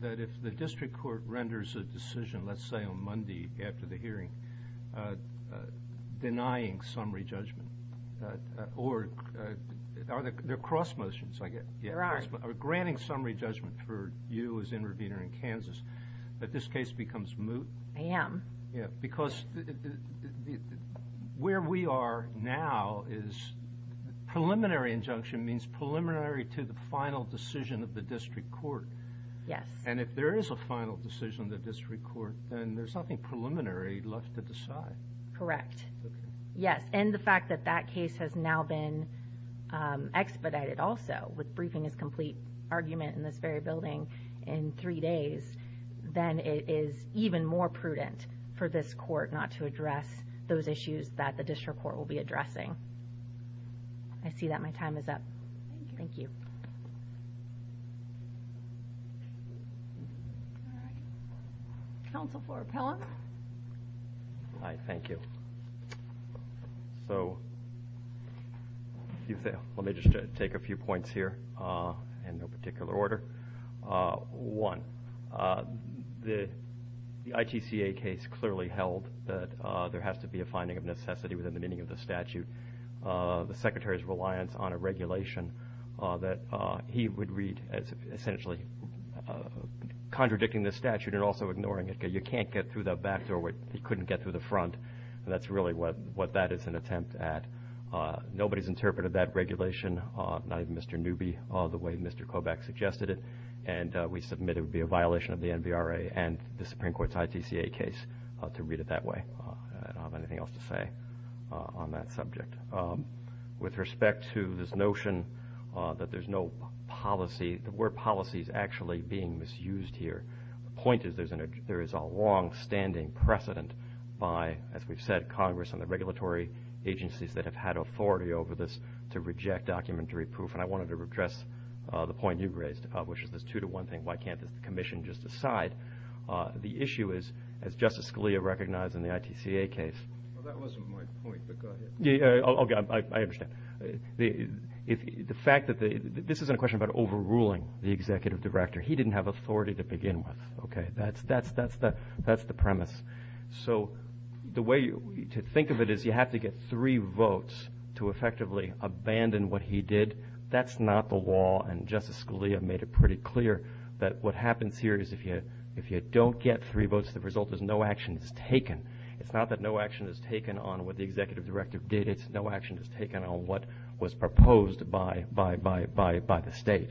that if the district court renders a decision, let's say on Monday after the hearing, denying summary judgment, or are there cross motions, I guess? There are. Are granting summary judgment for you as intervener in Kansas, that this case becomes moot? Am. Yeah, because where we are now is preliminary injunction means preliminary to the final decision of the district court. Yes. And if there is a final decision in the district court, then there's nothing preliminary left to decide. Correct. Yes. And the fact that that case has now been expedited also, with briefing a complete argument in this very building in three days, then it is even more prudent for this court not to address those issues that the district court will be addressing. I see that my time is up. Thank you. Counsel for appellant. Hi, thank you. So let me just take a few points here in no particular order. One, the ITCA case clearly held that there has to be a finding of necessity within the meaning of the statute. The secretary's reliance on a regulation that he would read as essentially contradicting the statute and also ignoring it. You can't get through the back door. He couldn't get through the front. That's really what that is an attempt at. Nobody's interpreted that regulation, not even Mr. Newby, the way Mr. Kovacs suggested it. And we submit it would be a violation of the NVRA and the Supreme Court's ITCA case to read it that way. I don't have anything else to say on that subject. With respect to this notion that there's no policy, the word policy is actually being misused here. The point is there is a long standing precedent by, as we've said, Congress and the regulatory agencies that have had authority over this to reject documentary proof. And I wanted to address the point you raised, to publish this two to one thing. Why can't the commission just decide? The issue is, as Justice Scalia recognized in the ITCA case. Well, that wasn't my point, but go ahead. Yeah, okay, I understand. This isn't a question about overruling the executive director. He didn't have authority to begin with. Okay, that's the premise. So the way to think of it is you have to get three votes to effectively abandon what he did. That's not the law. And Justice Scalia made it pretty clear that what happens here is if you don't get three votes, the result is no action is taken. It's not that no action is taken on what the executive directive did. It's no action is taken on what was proposed by the state.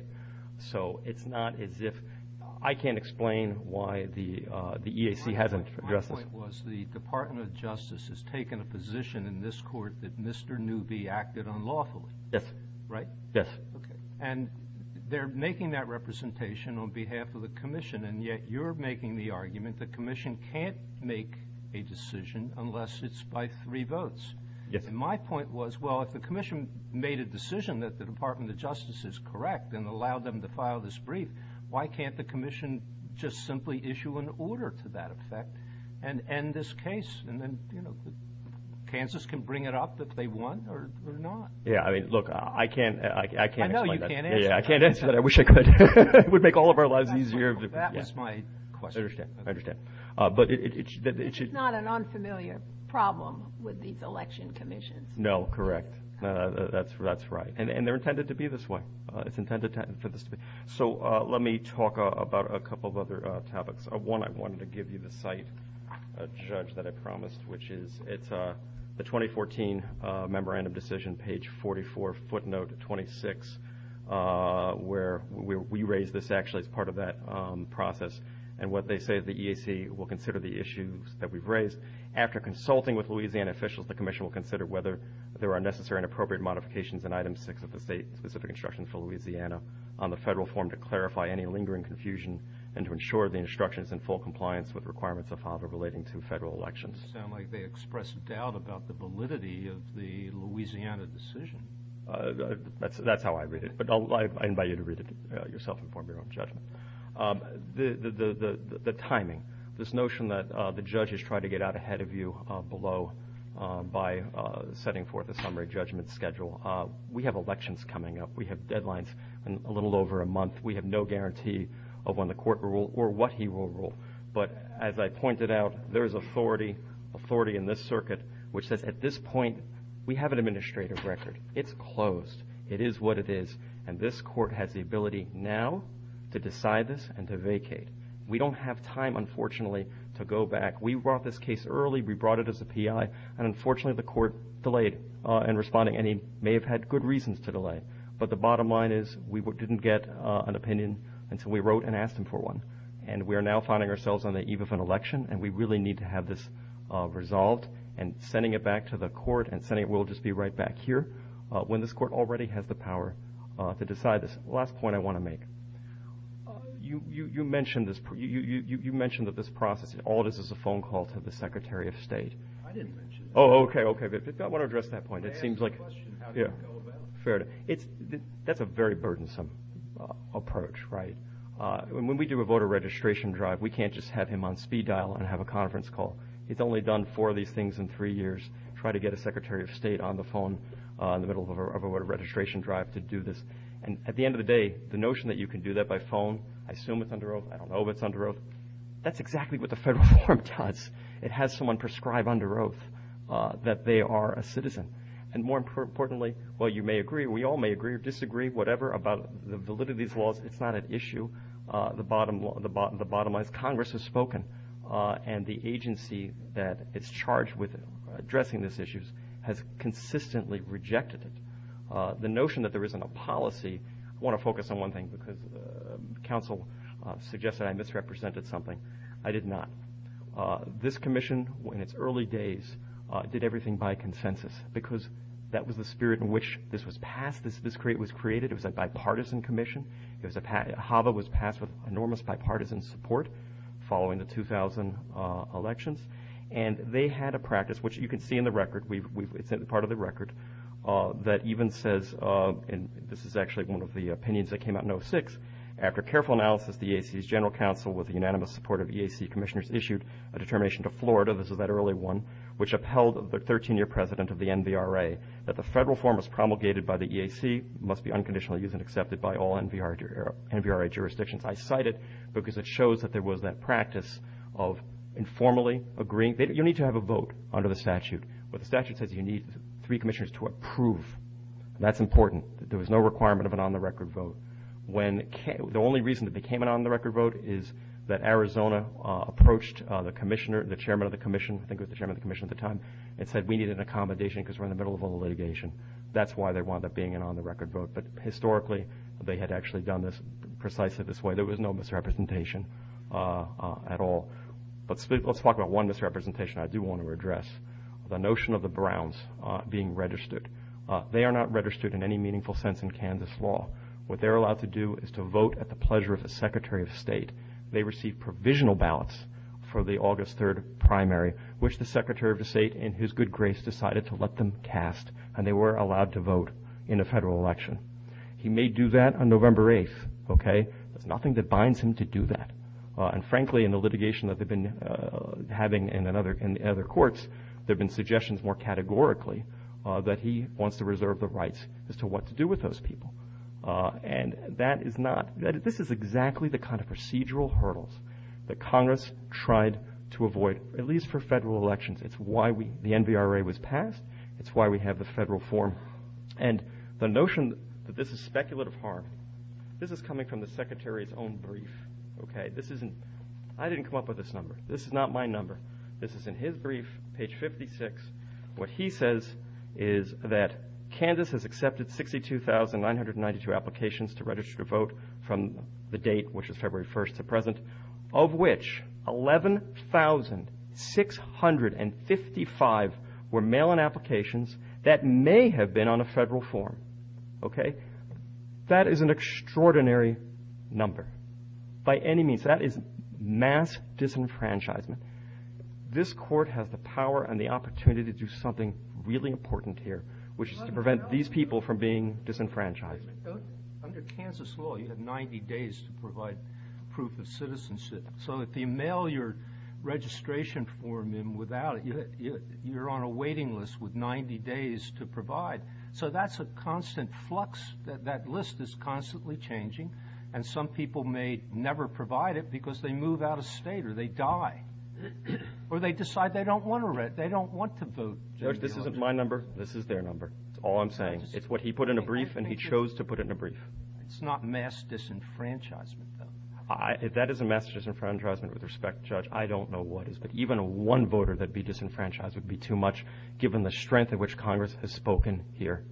So it's not as if I can't explain why the EAC hasn't addressed this. My point was the Department of Justice has taken a position in this court that Mr. Newby acted unlawfully. Yes. Right? Yes. And they're making that representation on behalf of the commission. And yet you're making the argument the commission can't make a decision unless it's by three votes. Yes. And my point was, well, if the commission made a decision that the Department of Justice is correct and allowed them to file this brief, why can't the commission just simply issue an order to that effect and end this case? And then, you know, chances can bring it up that they won or not. Yeah, I mean, look, I can't, I can't. I know you can't answer that. I can't answer that. I wish I could. It would make all of our lives easier. That's my question. I understand. I understand. But it should... It's not an unfamiliar problem with these election commissions. No, correct. That's right. And they're intended to be this way. It's intended for this way. So let me talk about a couple of other topics. One, I wanted to give you the site, Judge, that I promised, which is it's the 2014 Memorandum of Decision, page 44, footnote 26, where we raised this actually as part of that process. And what they say is the EAC will consider the issues that we've raised. After consulting with Louisiana officials, the commission will consider whether there are necessary and appropriate modifications in item six of the state-specific instructions for Louisiana on the federal form to clarify any lingering confusion and to ensure the instructions in full compliance with requirements of FOIA relating to federal elections. Sound like they expressed doubt about the validity of the Louisiana decision. That's how I read it. But I invite you to read it yourself and form your own judgment. The timing, this notion that the judges try to get out ahead of you below by setting forth a summary judgment schedule. We have elections coming up. We have deadlines in a little over a month. We have no guarantee of when the court will rule or what he will rule. But as I pointed out, there's authority in this circuit, which says at this point, we have an administrative record. It's closed. It is what it is. And this court has the ability now to decide this and to vacate. We don't have time, unfortunately, to go back. We brought this case early. We brought it as a PI. And unfortunately, the court delayed in responding. And he may have had good reasons to delay. But the bottom line is we didn't get an opinion until we wrote and asked him for one. And we are now finding ourselves on the eve of an election. And we really need to have this resolved. And sending it back to the court and sending it, we'll just be right back here when this court already has the power to decide this. Last point I want to make. You mentioned that this process, all this is a phone call to the Secretary of State. I didn't mention that. Oh, OK. OK, good. I want to address that point. It seems like... May I ask a question? How does it go about it? Fair. That's a very burdensome approach, right? When we do a voter registration drive, we can't just have him on speed dial and have a conference call. It's only done four of these things in three years, try to get a Secretary of State on the phone in the middle of a voter registration drive to do this. And at the end of the day, the notion that you can do that by phone, I assume it's under oath. I don't know if it's under oath. That's exactly what the federal reform does. It has someone prescribe under oath that they are a citizen. And more importantly, while you may agree, we all may agree or disagree, whatever about the validity of these laws, it's not an issue. The bottom line is Congress has spoken. And the agency that is charged with addressing these issues has consistently rejected it. The notion that there isn't a policy... I want to focus on one thing because counsel suggested I misrepresented something. I did not. This commission, in its early days, did everything by consensus because that was the spirit in which this was passed, this was created. It was a bipartisan commission. HAVA was passed with enormous bipartisan support following the 2000 elections. And they had a practice, which you can see in the record, it's part of the record, that even says, and this is actually one of the opinions that came out in 2006, after careful analysis, the EAC's general counsel, with the unanimous support of EAC commissioners, issued a determination to Florida, this is that early one, which upheld the 13-year president of the NBRA that the federal reform as promulgated by the EAC must be unconditionally used and accepted by all NBRA jurisdictions. I cite it because it shows that there was that practice of informally agreeing... You need to have a vote under the statute, but the statute says you need three commissioners to approve. That's important. There was no requirement of an on-the-record vote. The only reason it became an on-the-record vote is that Arizona approached the commissioner, the chairman of the commission, I think it was the chairman of the commission at the time, and said, we need an accommodation because we're in the middle of a litigation. That's why there wound up being an on-the-record vote. Historically, they had actually done this precisely this way. There was no misrepresentation at all. Let's talk about one misrepresentation I do want to address, the notion of the Browns being registered. They are not registered in any meaningful sense in Kansas law. What they're allowed to do is to vote at the pleasure of the secretary of state. They received provisional ballots for the August 3rd primary, which the secretary of the state, in his good grace, decided to let them cast, and they were allowed to vote in the federal election. He may do that on November 8th, okay? Nothing that binds him to do that. And frankly, in the litigation that they've been having in other courts, there have been suggestions more categorically that he wants to reserve the rights as to what to do with those people. And that is not, this is exactly the kind of procedural hurdles that Congress tried to avoid, at least for federal elections. It's why the NVRA was passed. It's why we have the federal form. And the notion that this is speculative harm, this is coming from the secretary's own brief, okay? This isn't, I didn't come up with this number. This is not my number. This is in his brief, page 56. What he says is that Kansas has accepted 62,992 applications to register to vote from the date, which is February 1st to present, of which 11,655 were mail-in applications that may have been on a federal form, okay? That is an extraordinary number. By any means, that is mass disenfranchisement. This court has the power and the opportunity to do something really important here, which is to prevent these people from being disenfranchised. Under Kansas law, you have 90 days to provide proof of citizenship. So if you mail your registration form in without it, you're on a waiting list with 90 days to provide. So that's a constant flux. That list is constantly changing. And some people may never provide it because they move out of state or they die or they decide they don't want to vote. Judge, this isn't my number. This is their number. It's all I'm saying. It's what he put in a brief and he chose to put in a brief. It's not mass disenfranchisement, though. If that is a mass disenfranchisement, with respect, Judge, I don't know what is. But even one voter that be disenfranchised would be too much, given the strength at which Congress has spoken here.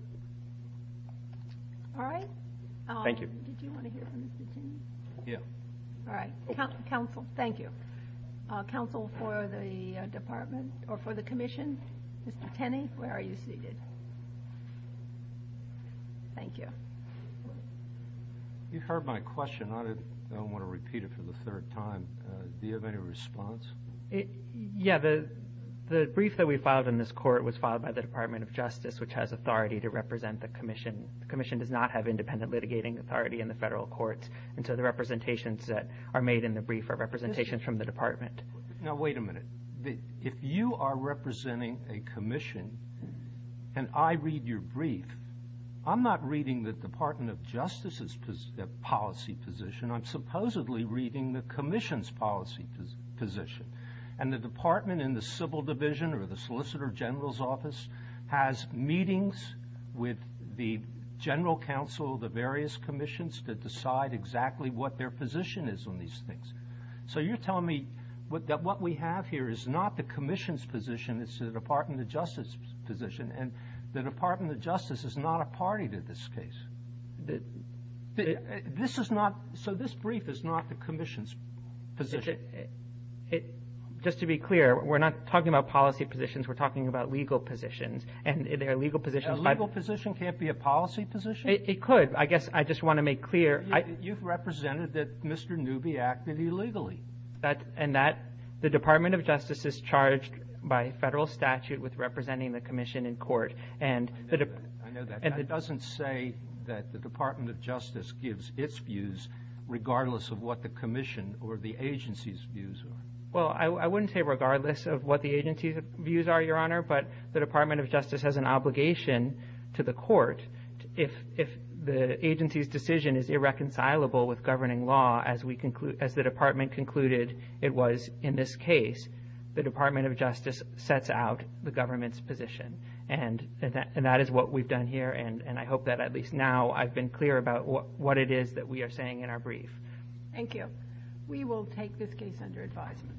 All right. Thank you. Do you want to hear from Mr. Tenney? Yeah. All right. Counsel, thank you. Counsel for the department or for the commission, Mr. Tenney, where are you seated? Thank you. You heard my question. I don't want to repeat it for the third time. Do you have any response? Yeah. The brief that we filed in this court was filed by the Department of Justice, which has authority to represent the commission. The commission does not have independent litigating authority in the federal courts until the representations that are made in the brief are representations from the department. Now, wait a minute. If you are representing a commission and I read your brief, I'm not reading the Department of Justice's policy position. I'm supposedly reading the commission's policy position. The department in the civil division or the solicitor general's office has meetings with the general counsel of the various commissions that decide exactly what their position is on these things. You're telling me that what we have here is not the commission's position, it's the Department of Justice's position, and the Department of Justice is not a party to this case. So this brief is not the commission's position. Just to be clear, we're not talking about policy positions, we're talking about legal positions, and there are legal positions- A legal position can't be a policy position. It could. I guess I just want to make clear- You've represented that Mr. Newby acted illegally. And that the Department of Justice is charged by federal statute with representing the commission in court, and- I know that, but that doesn't say that the Department of Justice gives its views regardless of what the commission or the agency's views are. Well, I wouldn't say regardless of what the agency's views are, Your Honor, but the Department of Justice has an obligation to the court if the agency's decision is irreconcilable with governing law as the department concluded it was in this case. The Department of Justice sets out the government's position, and that is what we've done here, and I hope that at least now I've been clear about what it is that we are saying in our brief. Thank you. We will take this case under advisement.